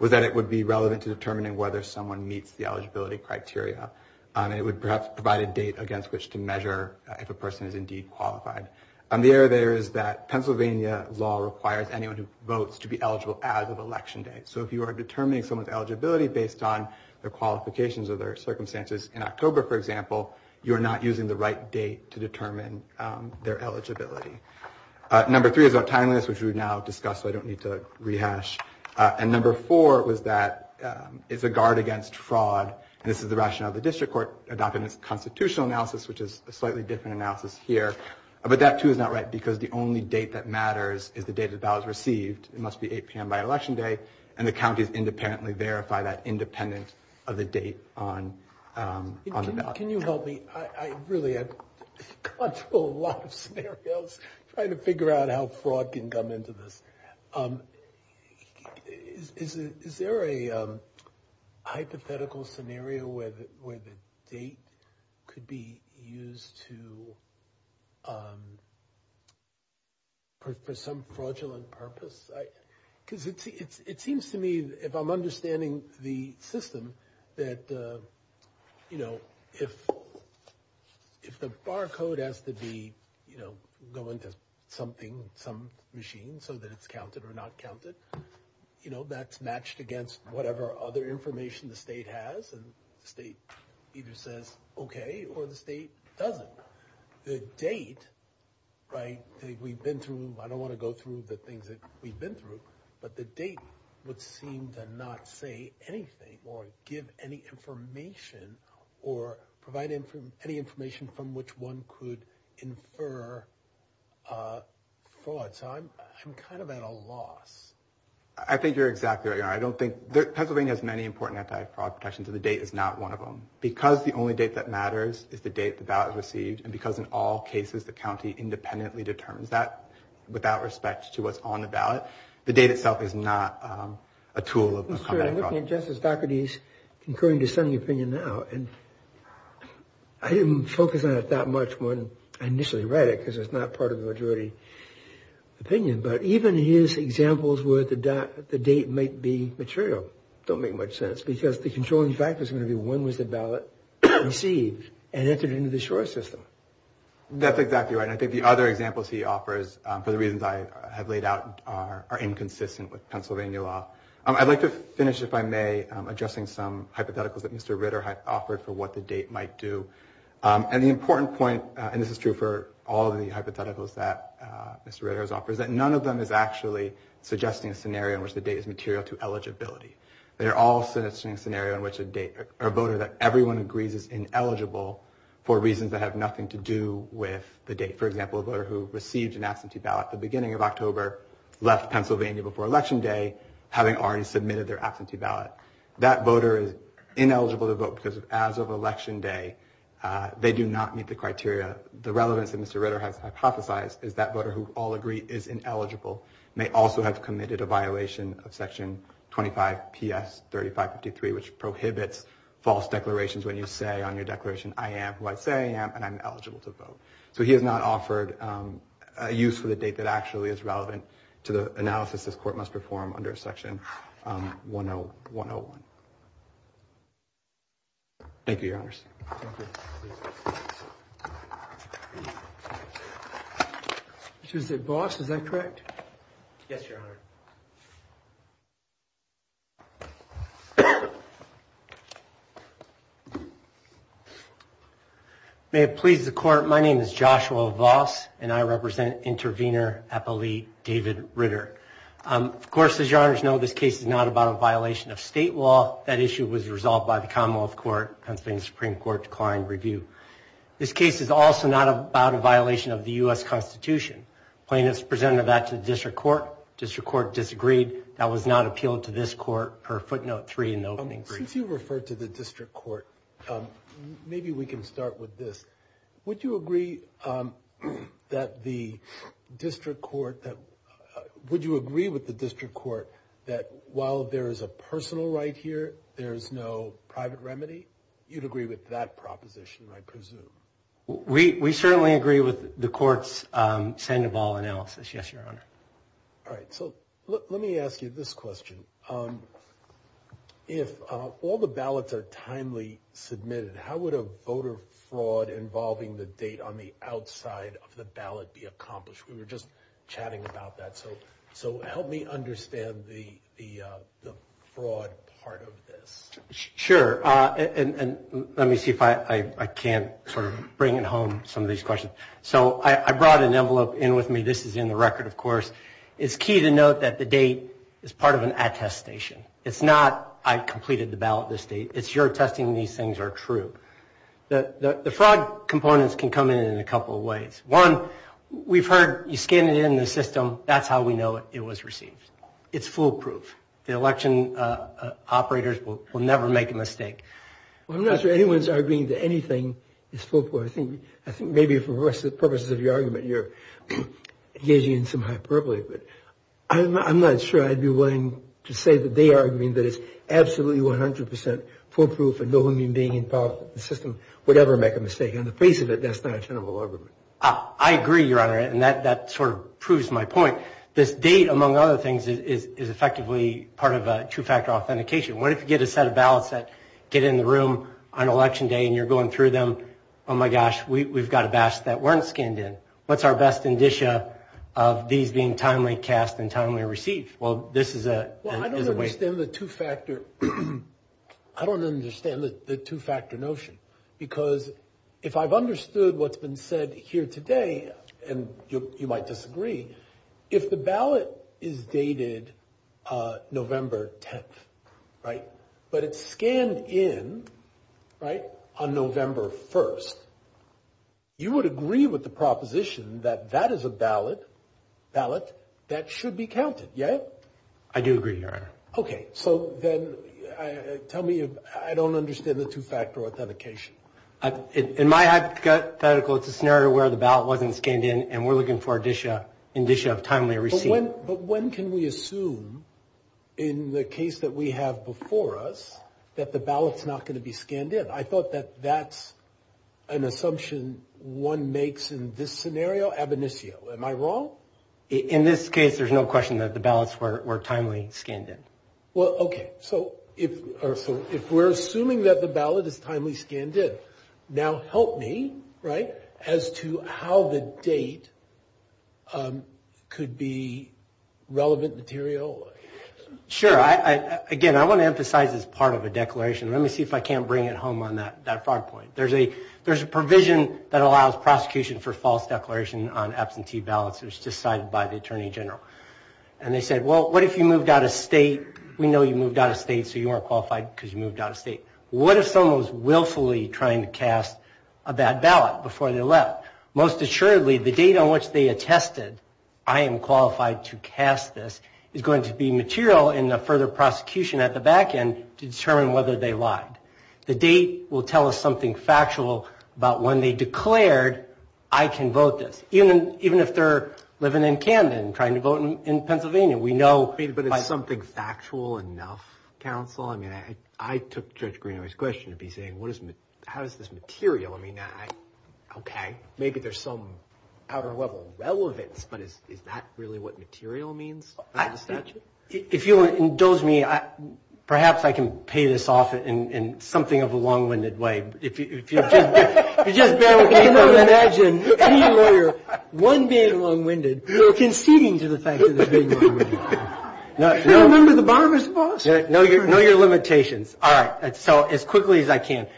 was that it would be relevant to determining whether someone meets the eligibility criteria. It would perhaps provide a date against which to measure if a person is indeed qualified. The error there is that Pennsylvania law requires anyone who votes to be eligible as of Election Day. So if you are determining someone's eligibility based on their qualifications or their circumstances in October, for example, you're not using the right date to determine their eligibility. Number three is our timeliness, which we've now discussed so I don't need to rehash. And number four was that it's a guard against fraud. This is the rationale of the district court about the constitutional analysis, which is a slightly different analysis here. But that too is not right because the only date that matters is the date the ballot is received. It must be 8 p.m. by Election Day and the counties independently verify that independent of the date on the ballot. Can you help me? Really, I've gone through a lot of scenarios trying to figure out how fraud can come into this. Is there a hypothetical scenario where the date could be used for some fraudulent purpose? Because it seems to me if I'm understanding the system that if the barcode has to be going to something, some machine so that it's counted or not counted, you know, that's matched against whatever other information the state has and the state either says okay or the state doesn't. The date, right, we've been through, I don't want to go through the things that we've been through, but the date would seem to not say anything or give any information or provide any information from which one could infer fraud. So I'm kind of at a loss. I think you're exactly right. I don't think, Pennsylvania has many important anti-fraud protections and the date is not one of them. Because the only date that matters is the date the ballot is received and because in all cases the county independently determines that without respect to what's on the ballot, the date itself is not a tool of anti-fraud. I'm looking at just the faculties incurring dissenting opinion now and I didn't focus on it that much when I initially read it because it's not part of the majority opinion. But even his examples where the date might be material don't make much sense because the controlling factor is going to be when was the ballot received and entered into the short system. That's exactly right. I think the other examples he offers for the reasons I have laid out are inconsistent with Pennsylvania law. I'd like to finish, if I may, addressing some hypotheticals that Mr. Ritter had offered for what the date might do. And the important point, and this is true for all the hypotheticals that Mr. Ritter has offered, is that none of them is actually suggesting a scenario in which the date is material to eligibility. They're all suggesting a scenario in which a voter that everyone agrees is ineligible for reasons that have nothing to do with the date. For example, a voter who received an absentee ballot at the beginning of October left Pennsylvania before Election Day having already submitted their absentee ballot. That voter is ineligible to vote because as of Election Day they do not meet the criteria. The relevance that Mr. Ritter has hypothesized is that voter who all agree is ineligible may also have committed a violation of section 25 PS 3553 which prohibits false declarations when you say on your declaration I am who I say I am and I'm eligible to vote. So he has not offered a use for the date that actually is relevant to the analysis this court must perform under section 101. Thank you, Your Honors. This is the boss, is that correct? Yes, Your Honor. May it please the court, my name is Joshua Voss and I represent intervener appellee David Ritter. Of course, as Your Honors know this case is not about a violation of state law that issue was resolved by the Commonwealth Court and the Supreme Court declined review. This case is also not about a violation of the U.S. Constitution. Plaintiffs presented that to the District Court. District Court disagreed. That was not appealed to this court per footnote three in the opening brief. Since you referred to the District Court maybe we can start with this. Would you agree that the District Court would you agree with the District Court that while there is a personal right here there's no private remedy? You'd agree with that proposition, I presume. We certainly agree with the court's Sandoval analysis, yes, Your Honor. All right, so let me ask you this question. If all the ballots are timely submitted how would a voter fraud involving the date on the outside of the ballot be accomplished? We were just chatting about that. So help me understand the fraud part of this. Sure, and let me see if I can sort of bring it home some of these questions. So I brought an envelope in with me. This is in the record, of course. It's key to note that the date is part of an attestation. It's not I completed the ballot this date. It's you're attesting these things are true. The fraud components can come in in a couple of ways. One, we've heard you scan it in the system. That's how we know it was received. It's foolproof. The election operators will never make a mistake. I'm not sure anyone's arguing that anything is foolproof. I think maybe for the purposes of your argument you're engaging in some hyperbole. I'm not sure I'd be willing to say that they are arguing that it's absolutely 100% foolproof and no one being involved in the system would ever make a mistake. In the face of it, that's not a tenable argument. I agree, Your Honor. And that sort of proves my point. This date, among other things, is effectively part of a two-factor authentication. What if you get a set of ballots that get in the room on election day and you're going through them? Oh my gosh, we've got a basket that weren't scanned in. What's our best indicia of these being timely cast and timely received? Well, this is a different way. Well, I don't understand the two-factor notion. Because if I've understood what's been said here today and you might disagree, if the ballot is dated November 10th but it's scanned in on November 1st, you would agree with the proposition that that is a ballot that should be counted, yeah? I do agree, Your Honor. OK, so then tell me if I don't understand the two-factor authentication. In my hypothetical, it's a scenario where the ballot wasn't scanned in and we're looking for an indicia of timely received. But when can we assume, in the case that we have before us, that the ballot's not going to be scanned in? I thought that that's an assumption one makes in this scenario ab initio. Am I wrong? In this case, there's no question that the ballots were timely scanned in. Well, OK. So if we're assuming that the ballot is timely scanned in, now help me as to how the date could be relevant material. Sure. Again, I want to emphasize it's part of a declaration. Let me see if I can't bring it home on that frog point. There's a provision that allows prosecution for false declaration on absentee ballots. It was decided by the Attorney General. And they said, well, what if you moved out of state? We know you moved out of state, so you aren't qualified because you moved out of state. What if someone was willfully trying to cast a bad ballot before they left? Most assuredly, the date on which they attested, I am qualified to cast this, is going to be material in the further prosecution at the back end to determine whether they lied. The date will tell us something factual about when they declared, I can vote this. Even if they're living in Canada and trying to vote in Pennsylvania, we know. But is something factual enough, counsel? I mean, I took Judge Greenaway's question and be saying, how is this material? I mean, OK, maybe there's some outer level relevance, but is that really what material means? If you will indulge me, perhaps I can pay this off in something of a long-winded way. If you just bear with me, I can imagine one being long-winded, conceding to the fact that he's being long-winded. Remember the barbershop? Know your limitations. All right. So as quickly as I can.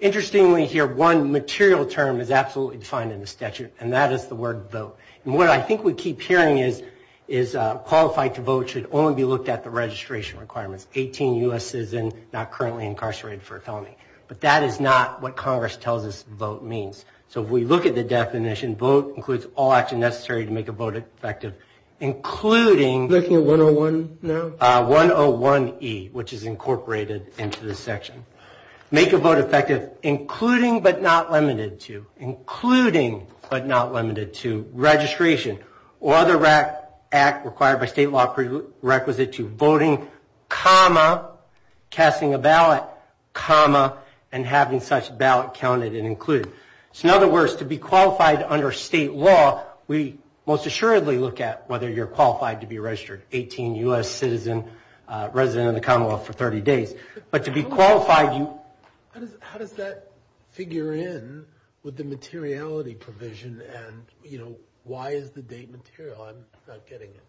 Interestingly here, one material term is absolutely defined in the statute, and that is the word vote. And what I think we keep hearing is qualified to vote should only be looked at the registration requirements. 18 US citizens not currently incarcerated for a felony. But that is not what Congress tells us vote means. So if we look at the definition, vote includes all action necessary to make a vote effective, including- Looking at 101 now? 101E, which is incorporated into this section. Make your vote effective, including but not limited to. Including but not limited to registration or other act required by state law prerequisite to voting, comma, casting a ballot, comma, and having such ballot counted and included. So in other words, to be qualified under state law, we most assuredly look at whether you're qualified to be registered. 18 US citizen, resident of the Commonwealth for 30 days. But to be qualified, you- How does that figure in with the materiality provision? And why is the date material? I'm not getting it.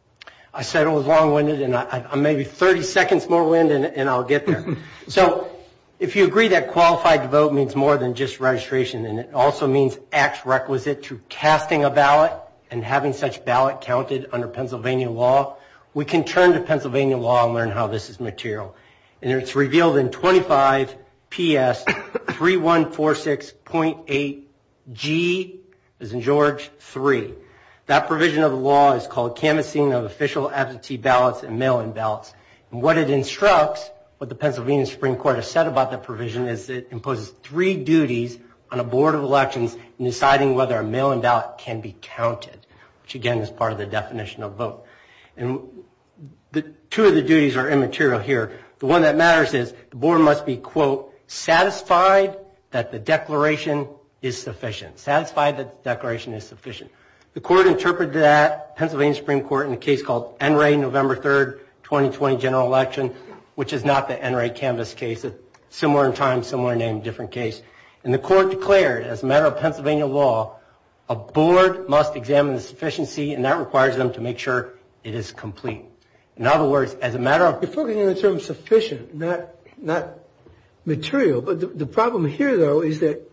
I said it was long-winded. I'm maybe 30 seconds more winded, and I'll get there. So if you agree that qualified vote means more than just registration, and it also means acts requisite to casting a ballot and having such ballot counted under Pennsylvania law, we can turn to Pennsylvania law and learn how this is material. And it's revealed in 25 PS 3146.8G, as in George, 3. That provision of the law is called canvassing of official absentee ballots and mail-in ballots. And what it instructs, what the Pennsylvania Supreme Court has said about that provision, is it imposes three duties on a board of elections in deciding whether a mail-in ballot can be counted, which, again, is part of the definition of vote. And two of the duties are immaterial here. The one that matters is the board must be, quote, satisfied that the declaration is sufficient. Satisfied that the declaration is sufficient. The court interpreted that, Pennsylvania Supreme Court, in a case called NRA November 3, 2020 general election, which is not the NRA canvass case. It's similar in time, similar name, different case. And the court declared, as a matter of Pennsylvania law, a board must examine the sufficiency, and that requires them to make sure it is complete. In other words, as a matter of- It's talking in terms of sufficient, not material. But the problem here, though, is that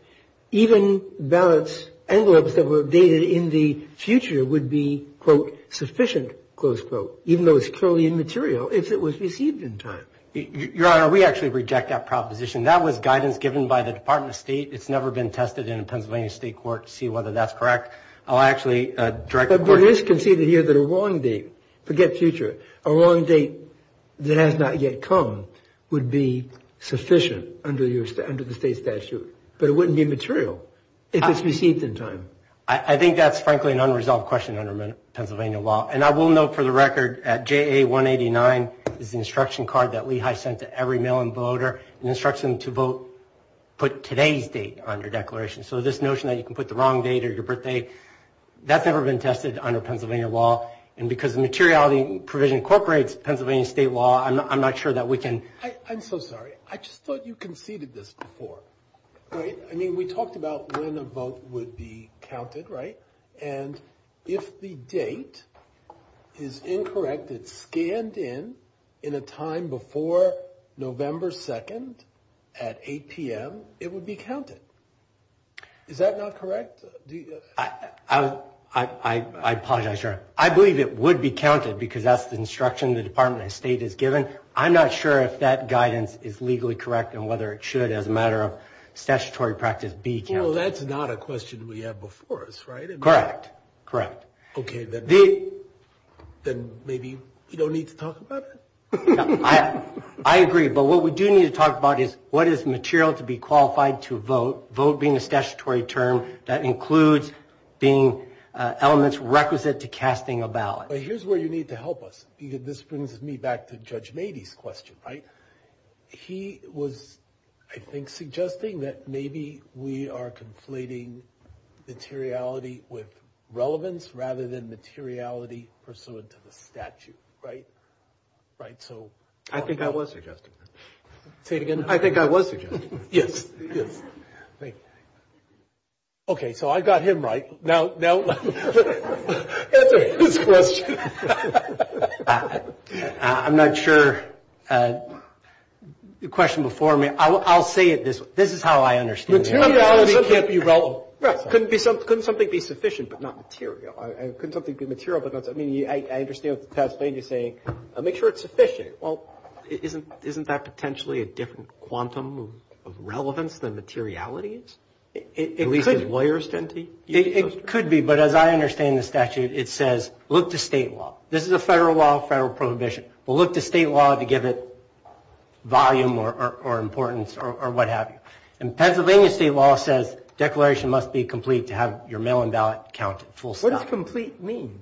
even ballots envelopes that were dated in the future would be, quote, sufficient, close quote, even though it's totally immaterial if it was received in time. Your Honor, we actually reject that proposition. That was guidance given by the Department of State. It's never been tested in a Pennsylvania state court to see whether that's correct. I'll actually direct the court- But it is conceded here that a wrong date, forget future, a wrong date that has not yet come would be sufficient under the state statute. But it wouldn't be immaterial if it's received in time. I think that's, frankly, an unresolved question under Pennsylvania law. And I will note, for the record, at JA 189, there's an instruction card that Lehigh sent to every mail-in voter, an instruction to put today's date on your declaration. So this notion that you can put the wrong date or your birthday, that's never been tested under Pennsylvania law. And because the materiality provision incorporates Pennsylvania state law, I'm not sure that we can- I'm so sorry. I just thought you conceded this before. I mean, we talked about when a vote would be counted, right? And if the date is incorrect, it's scanned in in a time before November 2nd at 8 PM, it would be counted. Is that not correct? I apologize, Your Honor. I believe it would be counted because that's the instruction the Department of State has given. I'm not sure if that guidance is legally correct and whether it should as a matter of statutory practice be counted. Well, that's not a question we have before us, right? Correct. Correct. OK. Then maybe you don't need to talk about it? I agree. But what we do need to talk about is, what is material to be qualified to vote? Vote being a statutory term that includes being elements requisite to casting a ballot. Here's where you need to help us. This brings me back to Judge Mady's question, right? He was, I think, suggesting that maybe we are conflating materiality with relevance rather than materiality pursuant to the statute, right? I think I was suggesting that. Say it again. I think I was suggesting that. Yes. Yes. Thank you. OK. So I got him right. No. No. That's a good question. I'm not sure. The question before me, I'll say it this way. This is how I understand it. Materiality can't be relevant. Well, couldn't something be sufficient but not material? Couldn't something be material but not sufficient? I mean, I understand what the test lady is saying. Make sure it's sufficient. Well, isn't that potentially a different quantum of relevance than materiality is? It could be, but as I understand the statute, it says look to state law. This is a federal law, federal prohibition. Well, look to state law to give it volume or importance or what have you. And Pennsylvania state law says declaration must be complete to have your mail-in ballot counted. What does complete mean?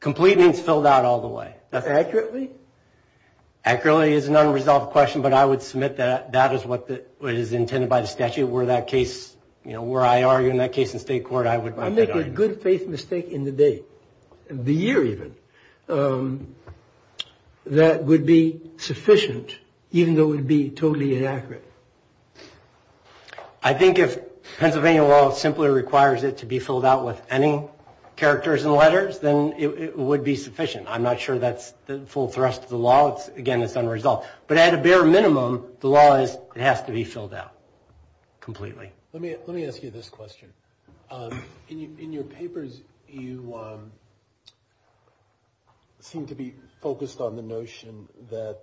Complete means fill that all the way. Accurately? Accurately is an unresolved question, but I would submit that that is what is intended by the statute where that case, where I argue in that case in state court, I would recommend. I make a good faith mistake in the day, the year even, that would be sufficient even though it would be totally inaccurate. I think if Pennsylvania law simply requires it to be filled out with any characters and letters, then it would be sufficient. I'm not sure that's the full thrust of the law. Again, it's unresolved. But at a bare minimum, the law has to be filled out completely. Let me ask you this question. In your papers, you seem to be focused on the notion that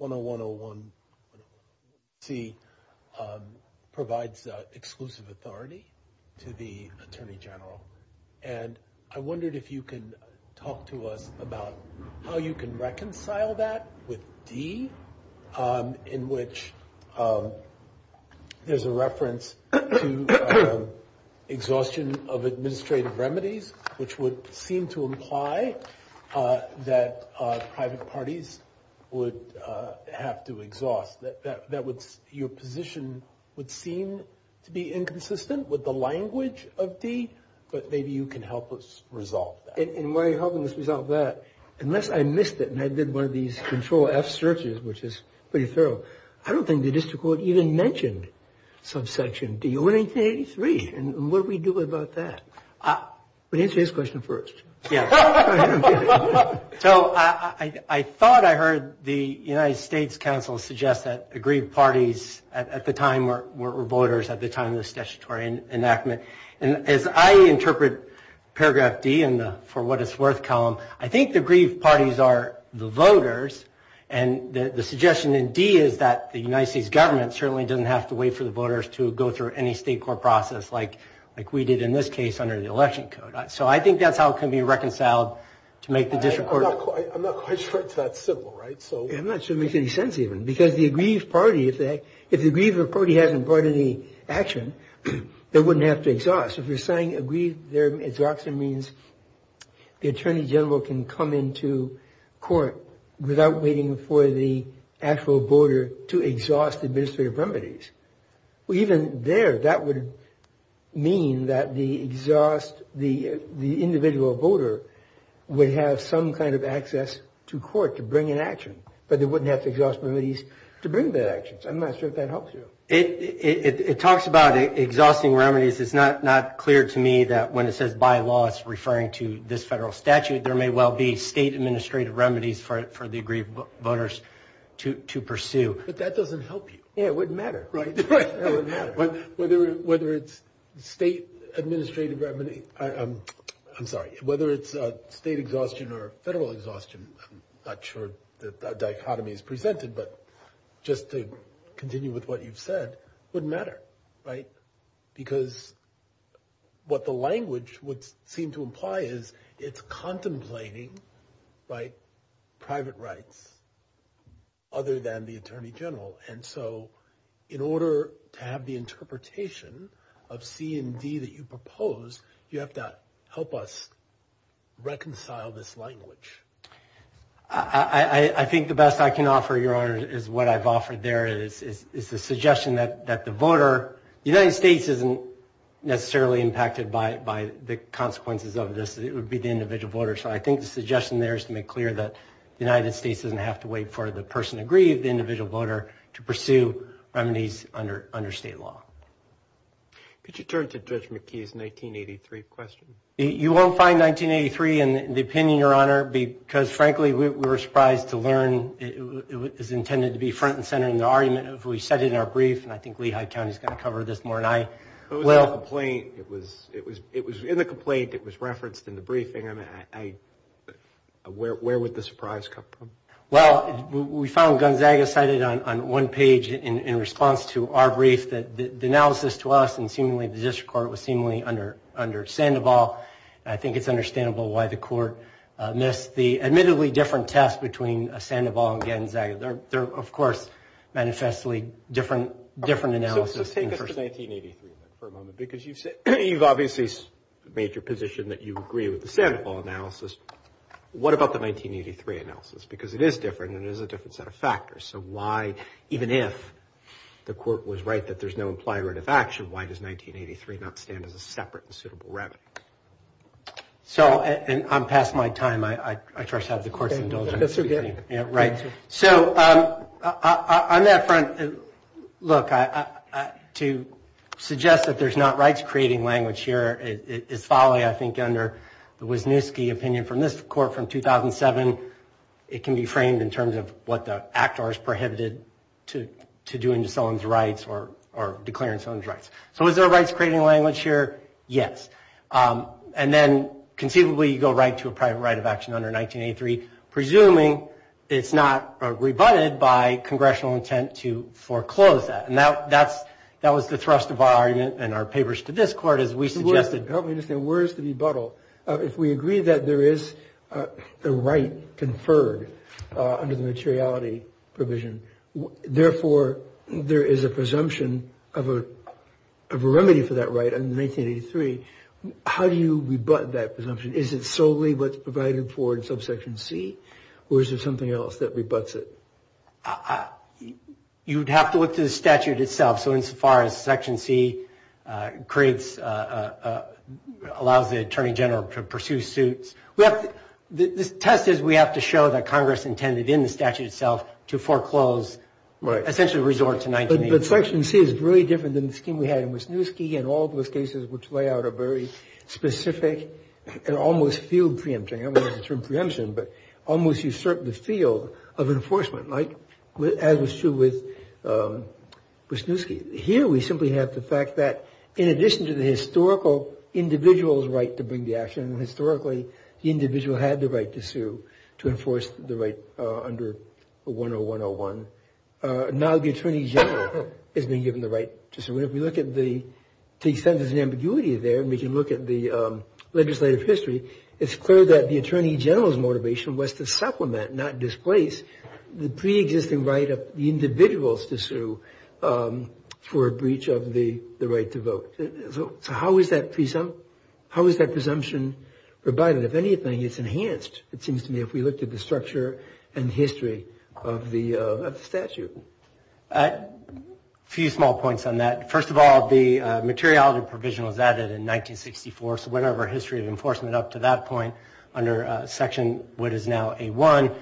101C provides exclusive authority to the attorney general. And I wondered if you could talk to us about how you can reconcile that with D, in which there's a reference to exhaustion of administrative remedies, which would seem to imply that private parties would have to exhaust. Your position would seem to be inconsistent with the language of D, but maybe you can help us resolve that. And the way you're helping us resolve that, unless I missed it and I did one of these Control-F searches, which is pretty thorough, I don't think the district court even mentioned subsection D or 1983. And what do we do about that? But answer this question first. Yes. So I thought I heard the United States Council suggest that agreed parties at the time were voters at the time of the statutory enactment. And as I interpret paragraph D for what it's worth column, I think the agreed parties are the voters. And the suggestion in D is that the United States government certainly doesn't have to wait for the voters to go through any state court process like we did in this case under the election code. So I think that's how it can be reconciled to make the district court. I'm not quite sure it's that simple, right? It doesn't make any sense, even, because the agreed party, if the agreed party hasn't brought any action, they wouldn't have to exhaust. If you're saying agreed, their exhaustion means the attorney general can come into court without waiting for the actual voter to exhaust administrative remedies. Even there, that would mean that the individual voter would have some kind of access to court to bring an action. But they wouldn't have to exhaust remedies to bring bad actions. I'm not sure if that helps you. It talks about exhausting remedies. It's not clear to me that when it says by law, it's referring to this federal statute. There may well be state administrative remedies for the agreed voters to pursue. But that doesn't help you. Yeah, it wouldn't matter, right? Right. It wouldn't matter. Whether it's state administrative remedies, I'm sorry, whether it's state exhaustion or federal exhaustion, I'm not sure that that dichotomy is presented. But just to continue with what you've said, wouldn't matter, right? Because what the language would seem to imply is it's contemplating private rights other than the attorney general. And so in order to have the interpretation of C&D that you propose, you have to help us reconcile this language. I think the best I can offer, Your Honor, is what I've offered there is the suggestion that the voter, the United States isn't necessarily impacted by the consequences of this. It would be the individual voter. So I think the suggestion there is to make clear that the United States doesn't have to wait for the person agreed, the individual voter, to pursue remedies under state law. Could you turn to Judge McKee's 1983 question? You won't find 1983 in the opinion, Your Honor, because frankly, we were surprised to learn it was intended to be front and center in the argument we cited in our brief. And I think Lehigh County is going to cover this more. It was in the complaint. It was referenced in the briefing. Where would the surprise come from? Well, we found Gonzaga cited on one page in response to our brief that the analysis to us and seemingly the district court was seemingly under Sandoval. I think it's understandable why the court missed the admittedly different test between Sandoval and Gonzaga. They're, of course, manifestly different analysis. Let's take up the 1983 for a moment, because you've obviously made your position that you agree with the Sandoval analysis. What about the 1983 analysis? Because it is different, and it is a different set of factors. So why, even if the court was right that there's no implied right of action, why does 1983 not stand as a separate and suitable remedy? So I'm past my time. I trust I have the court's indulgence. Right. So on that front, look, to suggest that there's not rights-creating language here is following, I think, under the Wisniewski opinion from this court from 2007. It can be framed in terms of what the Act R has prohibited to do in someone's rights or declaring someone's rights. So is there a rights-creating language here? Yes. And then, conceivably, you go right to a private right presuming it's not rebutted by congressional intent to foreclose that. And that was the thrust of our argument and our papers to this court, as we suggested. Help me understand. Where is the rebuttal? If we agree that there is a right conferred under the materiality provision, therefore, there is a presumption of a remedy for that right in 1983. How do you rebut that presumption? Is it solely what's provided for in subsection C? Or is there something else that rebutts it? You'd have to look to the statute itself. So insofar as section C creates, allows the attorney general to pursue suit. The test is we have to show that Congress intended in the statute itself to foreclose, essentially, resort to 1983. But section C is very different than the scheme we had in Wisniewski and all those cases which lay out a very specific and almost field preemption. I don't want to term preemption, but almost usurp the field of enforcement, as is true with Wisniewski. Here we simply have the fact that, in addition to the historical individual's right to bring the action, historically, the individual had the right to sue to enforce the right under 10101. Now the attorney general is being given the right to sue. But if we look at the extent of the ambiguity there, and we can look at the legislative history, it's clear that the attorney general's motivation was to supplement, not displace, the pre-existing right of the individuals to sue for a breach of the right to vote. So how is that presumption provided? If anything, it's enhanced, it seems to me, if we looked at the structure and history of the statute. A few small points on that. First of all, the materiality provision was added in 1964, so whatever history of enforcement up to that point, under section what is now A1,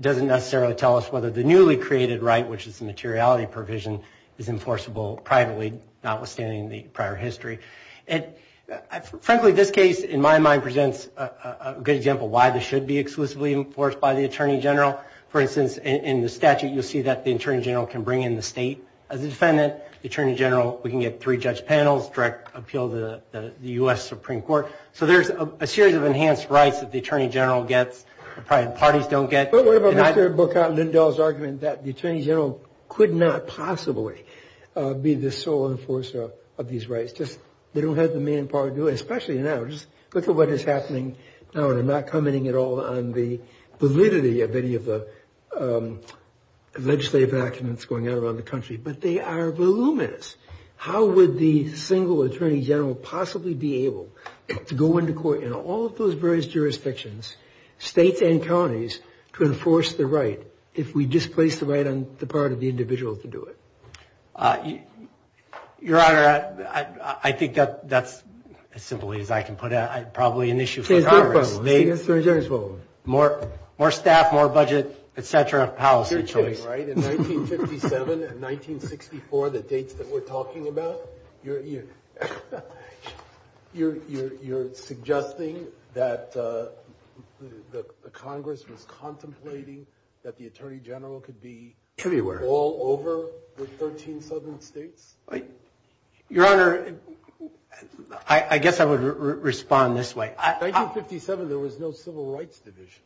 doesn't necessarily tell us whether the newly created right, which is the materiality provision, is enforceable privately, notwithstanding the prior history. Frankly, this case, in my mind, presents a good example why this should be exclusively enforced by the attorney general. For instance, in the statute, you'll see that the attorney general can bring in the state of the defendant. The attorney general, we can get three judge panels, direct appeal to the US Supreme Court. So there's a series of enhanced rights that the attorney general gets, the private parties don't get. But what about Dr. Bocott-Lindahl's argument that the attorney general could not possibly be the sole enforcer of these rights? They don't have the manpower to do it, especially now. Just look at what is happening now, and I'm not commenting at all on the validity of any of the legislative documents going out around the country. But they are voluminous. How would the single attorney general possibly be able to go into court in all of those various jurisdictions, states and counties, to enforce the right if we displace the right on the part of the individual to do it? Your Honor, I think that's, as simply as I can put it, probably an issue for Congress. More staff, more budget, et cetera, policy choice. In 1957 and 1964, the dates that we're talking about, you're suggesting that the Congress was contemplating that the attorney general could be all over the 13 southern states? Your Honor, I guess I would respond this way. In 1957, there was no Civil Rights Division.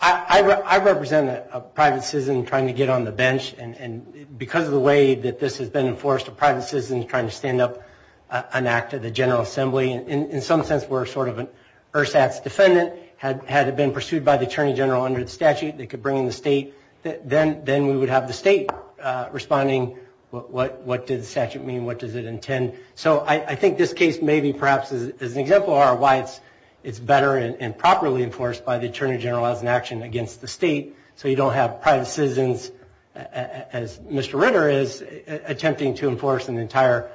I represent a private citizen trying to get on the bench. And because of the way that this has been enforced, a private citizen is trying to stand up an act of the General Assembly. And in some sense, we're sort of an ersatz defendant. Had it been pursued by the attorney general under the statute, they could bring in the state. Then we would have the state responding. What does the statute mean? What does it intend? So I think this case may be, perhaps, as an example of our rights, it's better and properly enforced by the attorney general as an action against the state. So you don't have private citizens, as Mr. Ritter is, attempting to enforce an entire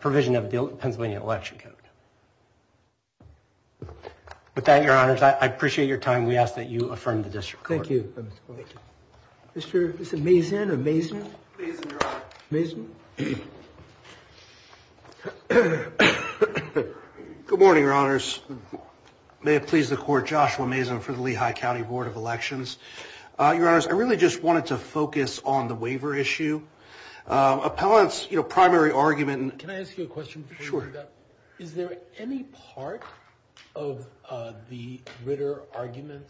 provision of the Pennsylvania Election Code. With that, Your Honors, I appreciate your time. We ask that you affirm the district court. Thank you. Mr. Mazin or Mazin? Mazin, Your Honor. Mazin? Good morning, Your Honors. May it please the court, Joshua Mazin for the Lehigh County Board of Elections. Your Honors, I really just wanted to focus on the waiver issue. Appellants, your primary argument. Can I ask you a question? Sure. Is there any part of the Ritter argument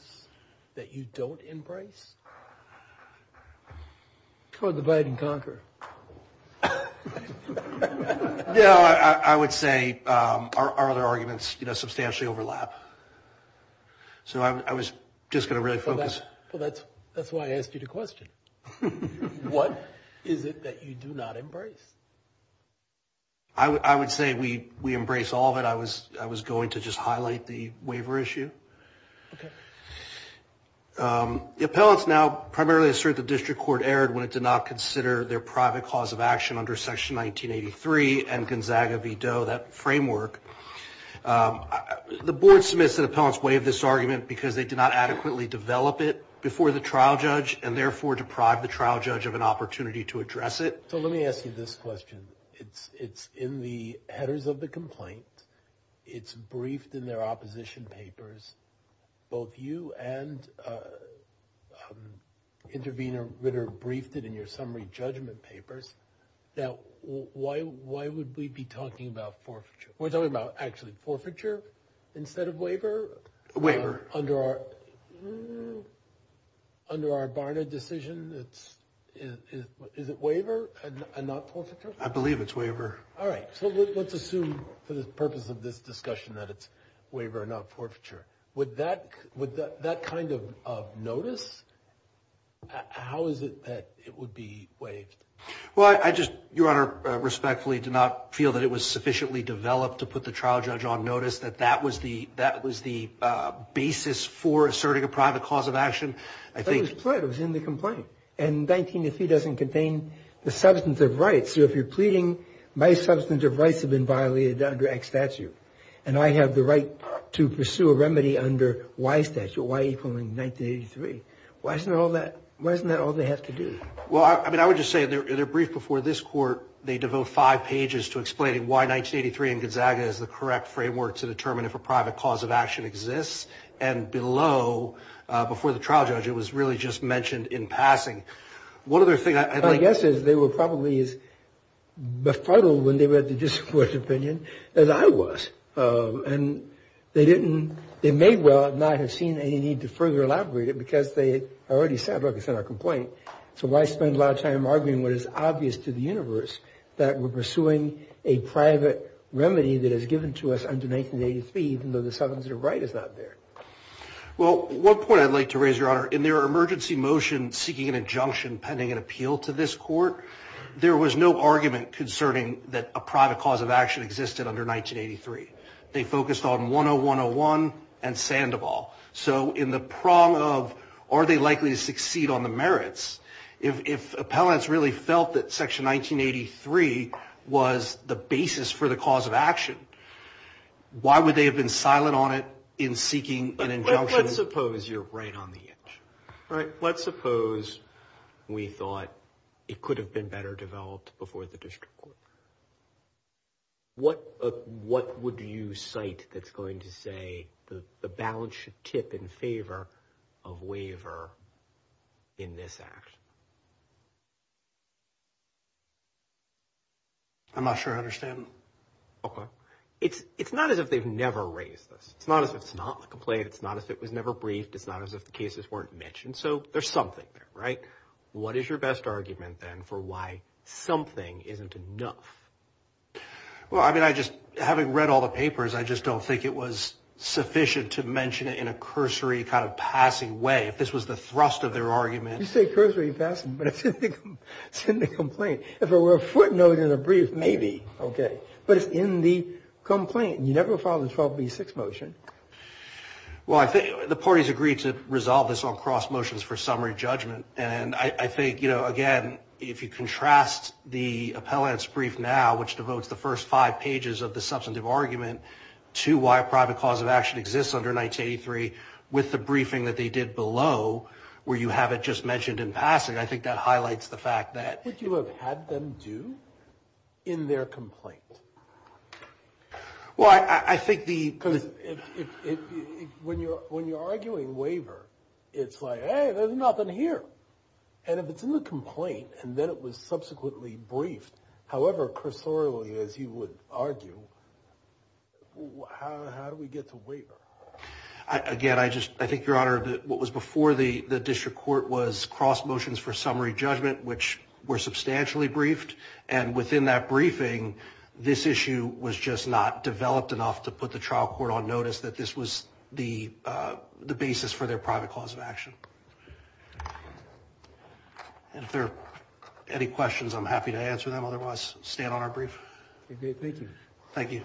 that you don't embrace? Toward the fight and conquer. No, I would say our other arguments substantially overlap. So I was just going to really focus. So that's why I asked you the question. What is it that you do not embrace? I would say we embrace all of it. I was going to just highlight the waiver issue. OK. The appellants now primarily assert the district court erred when it did not consider their private cause of action under section 1983 and Gonzaga v. Doe, that framework. The board submits that appellants waived this argument because they did not adequately develop it before the trial judge and therefore deprived the trial judge of an opportunity to address it. So let me ask you this question. It's in the headers of the complaint. It's briefed in their opposition papers. Both you and intervener Ritter briefed it in your summary judgment papers. Now, why would we be talking about forfeiture? We're talking about actually forfeiture instead of waiver? Waiver. Under our Barna decision, is it waiver and not false accusation? I believe it's waiver. All right. So let's assume for the purpose of this discussion that it's waiver and not forfeiture. Would that kind of notice, how is it that it would be waived? Well, I just, Your Honor, respectfully do not feel that it was sufficiently developed to put the trial judge on notice, that that was the basis for asserting a private cause of action. But it was put. It was in the complaint. And 19AC doesn't contain the substantive rights. So if you're pleading, my substantive rights have been violated under X statute. And I have the right to pursue a remedy under Y statute, Y equaling 1983. Why isn't that all they have to do? Well, I mean, I would just say, in their brief before this court, they devote five pages to explaining why 1983 in Gonzaga is the correct framework to determine if a private cause of action exists. And below, before the trial judge, it was really just mentioned in passing. My guess is they were probably as befuddled when they read the district court's opinion as I was. And they may well not have seen any need to further elaborate it, because they already said, like I said, our complaint. So why spend a lot of time arguing what is obvious to the universe, that we're pursuing a private remedy that is given to us under 1983, even though the substantive right is not there? Well, one point I'd like to raise, Your Honor, in their emergency motion seeking an injunction pending an appeal to this court, there was no argument concerning that a private cause of action existed under 1983. They focused on 10101 and Sandoval. So in the prong of, are they likely to succeed on the merits, if appellants really felt that section 1983 was the basis for the cause of action, why would they have been silent on it in seeking an injunction? Let's suppose you're right on the edge. All right. Let's suppose we thought it could have been better developed before the district court. What would you cite that's going to say the balance should tip in favor of waiver in this action? I'm not sure I understand. OK. It's not as if they've never raised this. It's not as if it's not a complaint. It's not as if it was never briefed. It's not as if the cases weren't mentioned. So there's something there, right? What is your best argument, then, for why something isn't enough? Well, I mean, I just, having read all the papers, I just don't think it was sufficient to mention it in a cursory kind of passing way. If this was the thrust of their argument. You say cursory passing, but it's in the complaint. If it were a footnote in the brief, maybe. But it's in the complaint. You never filed a 12B6 motion. Well, I think the parties agreed to resolve this on cross motions for summary judgment. And I think, again, if you contrast the appellant's brief now, which devotes the first five pages of the substantive argument to why private cause of action exists under 1983 with the briefing that they did below, where you have it just mentioned in passing, I think that highlights the fact that. What did you have them do in their complaint? Well, I think when you're arguing waiver, it's like, hey, there's nothing here. And if it's in the complaint and then it was subsequently briefed, however cursorily as you would argue, how do we get to waiver? Again, I think, Your Honor, what was before the district court was cross motions for summary judgment, which were substantially briefed. And within that briefing, this issue was just not developed enough to put the trial court on notice that this was the basis for their private cause of action. If there are any questions, I'm happy to answer them. Otherwise, I'll stand on our brief. Thank you. Thank you. Thank you.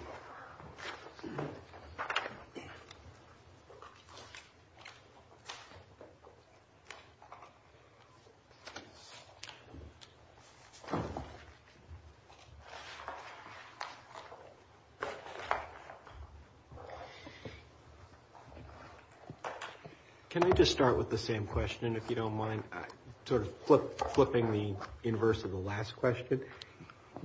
Can I just start with the same question, if you don't mind? Sort of flipping the inverse of the last question.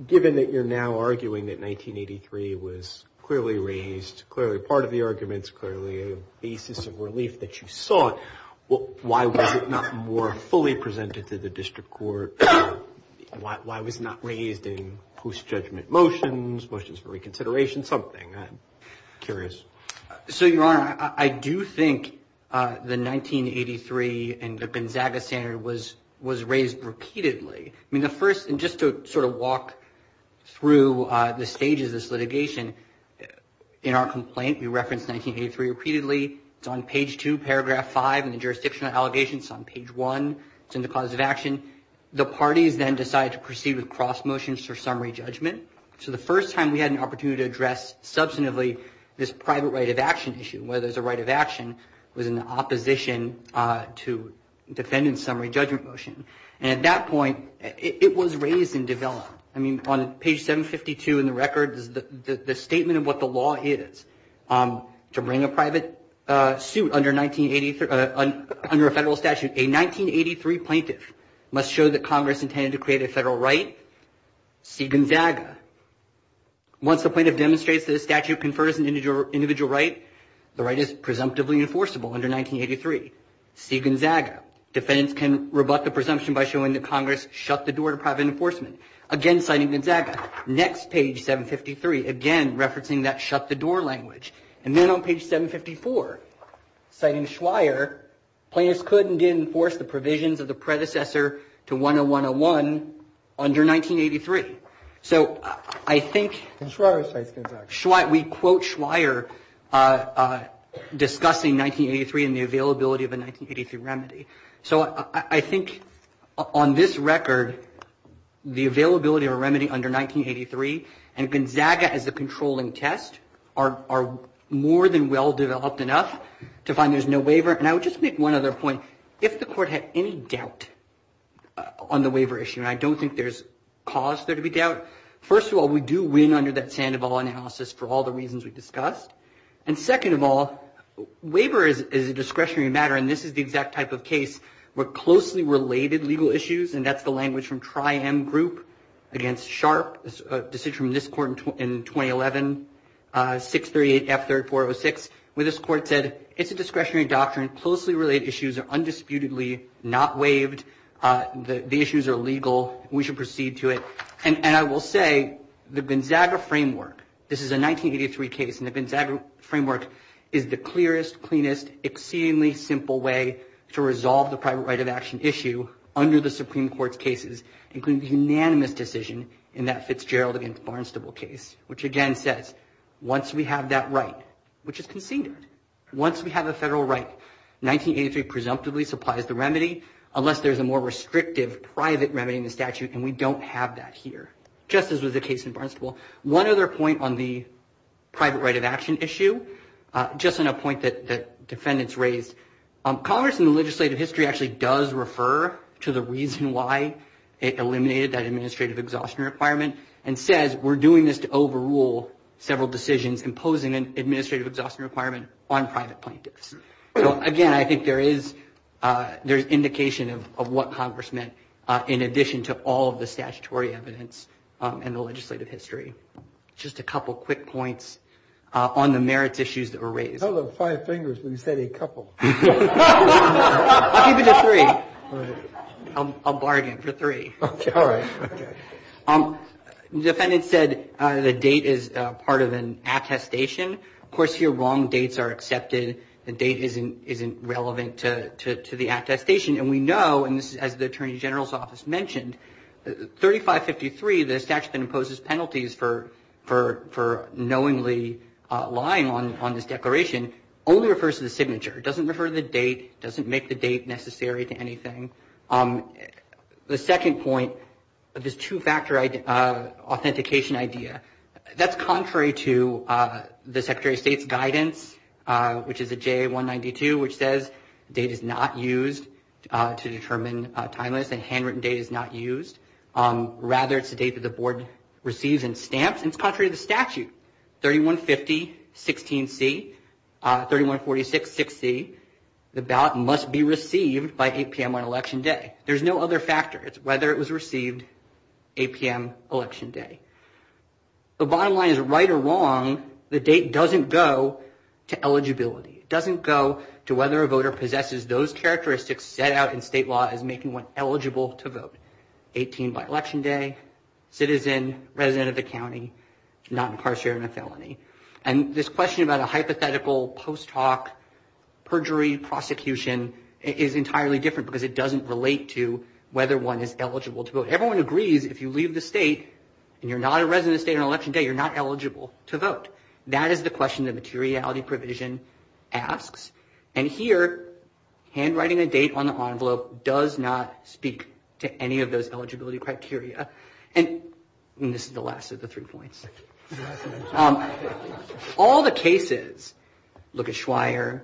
Given that you're now arguing that 1983 was clearly raised, clearly part of the arguments, clearly a basis of relief that you sought, why was it not more fully presented to the district court? Why was it not raised in post-judgment motions, motions for reconsideration, something? I'm curious. So, Your Honor, I do think the 1983 and the Gonzaga standard was raised repeatedly. I mean, the first, and just to sort of walk through the stages of this litigation, in our complaint, we referenced 1983 repeatedly. It's on page 2, paragraph 5 in the jurisdictional allegations. It's on page 1. It's in the cause of action. The parties then decided to proceed with cross motions for summary judgment. So the first time we had an opportunity to address substantively this private right of action issue, whether there's a right of action within the opposition to defending summary judgment motion. And at that point, it was raised and developed. I mean, on page 752 in the record, the statement of what the law is to bring a private suit under a federal statute. And a 1983 plaintiff must show that Congress intended to create a federal right. See Gonzaga. Once the plaintiff demonstrates that a statute confers an individual right, the right is presumptively enforceable under 1983. See Gonzaga. Defendants can rebut the presumption by showing that Congress shut the door to private enforcement. Again, citing Gonzaga. Next page, 753, again referencing that shut-the-door language. And then on page 754, citing Schweier, plaintiffs couldn't enforce the provisions of the predecessor to 10101 under 1983. So I think we quote Schweier discussing 1983 and the availability of a 1983 remedy. So I think on this record, the availability of a remedy under 1983 and Gonzaga as a controlling test are more than well-developed enough to find there's no waiver. And I would just make one other point. If the court had any doubt on the waiver issue, and I don't think there's cause there to be doubt, first of all, we do win under that Sandoval analysis for all the reasons we discussed. And second of all, waiver is a discretionary matter, and this is the exact type of case where closely related legal issues, and that's the language from Tri-M Group against Sharp, a decision from this court in 2011, 638F3406, where this court said, it's a discretionary doctrine. Closely related issues are undisputedly not waived. The issues are legal. We should proceed to it. And I will say the Gonzaga framework, this is a 1983 case, and the Gonzaga framework is the clearest, cleanest, exceedingly simple way to resolve the private right of action issue under the Supreme Court's cases, including the unanimous decision in that Fitzgerald against Barnstable case, which again says, once we have that right, which is conceded, once we have a federal right, 1983 presumptively supplies the remedy, unless there's a more restrictive private remedy in the statute, and we don't have that here, just as was the case in Barnstable. One other point on the private right of action issue, just on a point that defendants raised, Congress in the legislative history actually does refer to the reason why it eliminated that administrative exhaustion requirement and says we're doing this to overrule several decisions imposing an administrative exhaustion requirement on private plaintiffs. So, again, I think there is indication of what Congress meant in addition to all of the statutory evidence in the legislative history. Just a couple quick points on the merits issues that were raised. You held up five fingers when you said a couple. I'll keep it to three. I'll bargain for three. Okay, all right. The defendant said the date is part of an attestation. Of course, here wrong dates are accepted. The date isn't relevant to the attestation. And we know, as the Attorney General's Office mentioned, 3553, the statute that imposes penalties for knowingly lying on this declaration, only refers to the signature. It doesn't refer to the date. It doesn't make the date necessary to anything. The second point of this two-factor authentication idea, that's contrary to the Secretary of State's guidance, which is the JA192, which says date is not used to determine timeliness and handwritten date is not used. Rather, it's the date that the board receives and stamps, and it's contrary to the statute. 3150, 16C, 3146, 6C, the ballot must be received by 8 p.m. on Election Day. There's no other factor. It's whether it was received 8 p.m. Election Day. The bottom line is, right or wrong, the date doesn't go to eligibility. It doesn't go to whether a voter possesses those characteristics set out in state law as making one eligible to vote. 18 by Election Day, citizen, resident of the county, not incarcerated in a felony. And this question about a hypothetical post hoc perjury prosecution is entirely different because it doesn't relate to whether one is eligible to vote. Everyone agrees if you leave the state and you're not a resident of the state on Election Day, you're not eligible to vote. That is the question the materiality provision asks. And here, handwriting a date on the envelope does not speak to any of those eligibility criteria. And this is the last of the three points. All the cases, look at Schweier,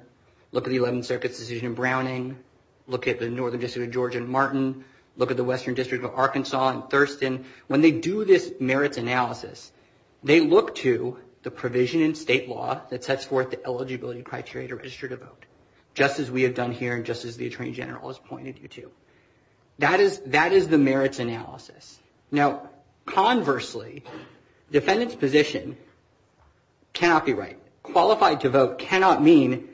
look at the 11th Circuit's decision in Browning, look at the Northern District of Georgia in Martin, look at the Western District of Arkansas in Thurston. When they do this merit analysis, they look to the provision in state law that sets forth the eligibility criteria to register to vote, just as we have done here and just as the Attorney General has pointed you to. That is the merits analysis. Now, conversely, defendant's position cannot be right. Qualified to vote cannot mean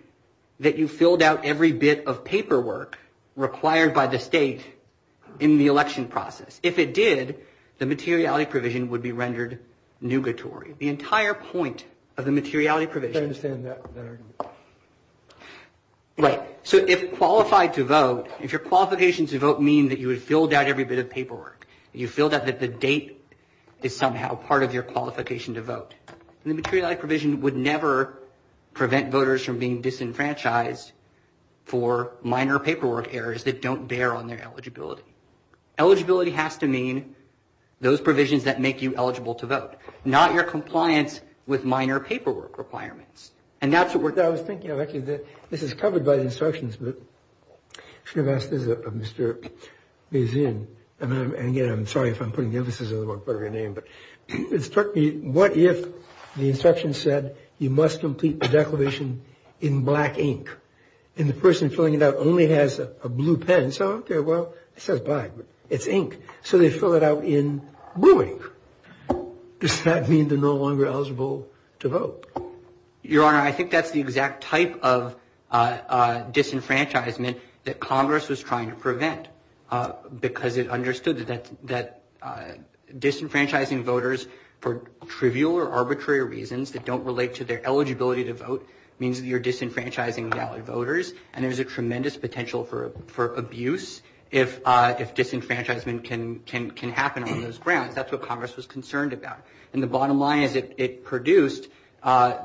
that you filled out every bit of paperwork required by the state in the election process. If it did, the materiality provision would be rendered nugatory. The entire point of the materiality provision. I understand that. Right, so if qualified to vote, if your qualification to vote means that you have filled out every bit of paperwork, you filled out that the date is somehow part of your qualification to vote, the materiality provision would never prevent voters from being disenfranchised for minor paperwork errors that don't bear on their eligibility. Eligibility has to mean those provisions that make you eligible to vote, not your compliance with minor paperwork requirements. And that's what we're talking about. I was thinking, this is covered by the instructions, but I'm sorry if I'm putting the emphasis on the wrong part of your name, but what if the instruction said you must complete the declaration in black ink and the person filling it out only has a blue pen. Well, it says black, but it's ink, so they fill it out in blue ink. Does that mean they're no longer eligible to vote? Your Honor, I think that's the exact type of disenfranchisement that Congress was trying to prevent because it understood that disenfranchising voters for trivial or arbitrary reasons that don't relate to their eligibility to vote means that you're disenfranchising valid voters, and there's a tremendous potential for abuse if disenfranchisement can happen on those grounds. In fact, that's what Congress was concerned about. And the bottom line is it produced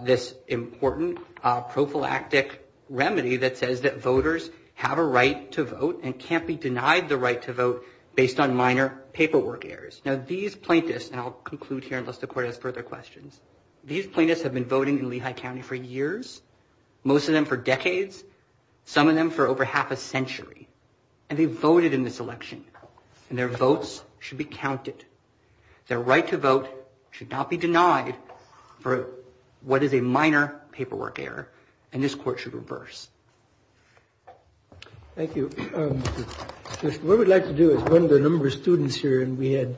this important prophylactic remedy that says that voters have a right to vote and can't be denied the right to vote based on minor paperwork errors. Now, these plaintiffs, and I'll conclude here unless the Court has further questions, these plaintiffs have been voting in Lehigh County for years, most of them for decades, some of them for over half a century, and they voted in this election, and their votes should be counted. Their right to vote should not be denied for what is a minor paperwork error, and this Court should reverse. Thank you. What we'd like to do is go to a number of students here, and we had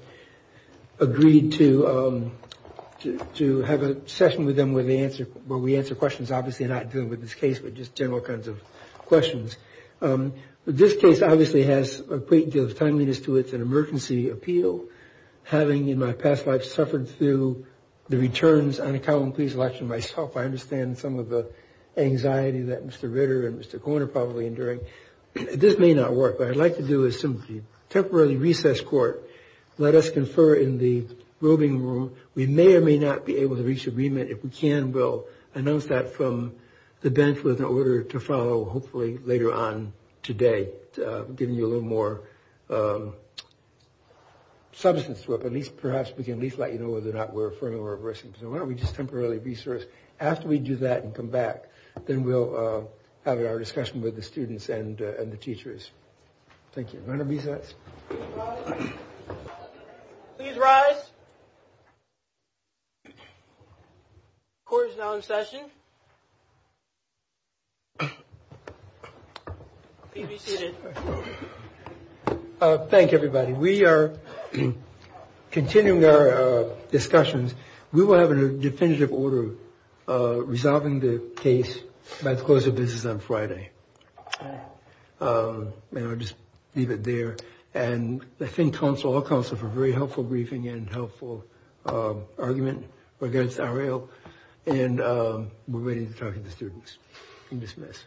agreed to have a session with them where we answer questions, obviously not dealing with this case, but just general kinds of questions. This case obviously has a great deal of timeliness to it. It's an emergency appeal. Having, in my past life, suffered through the returns, and I tell them, please watch me myself, I understand some of the anxiety that Mr. Ritter and Mr. Korn are probably enduring. This may not work. What I'd like to do is simply temporarily recess Court, let us confer in the voting room. We may or may not be able to reach agreement. If we can, we'll announce that from the bench with an order to follow hopefully later on today, giving you a little more substance to it, but perhaps we can at least let you know whether or not we're referring or reversing. So why don't we just temporarily recess? After we do that and come back, then we'll have our discussion with the students and the teachers. Thank you. Do you want to recess? Please rise. Court is now in session. Thank you. Thank you, everybody. We are continuing our discussions. We will have a definitive order resolving the case about the close of business on Friday. And I'll just leave it there. And I thank all counsel for a very helpful briefing and helpful argument against our ill, and we're waiting for the students to dismiss.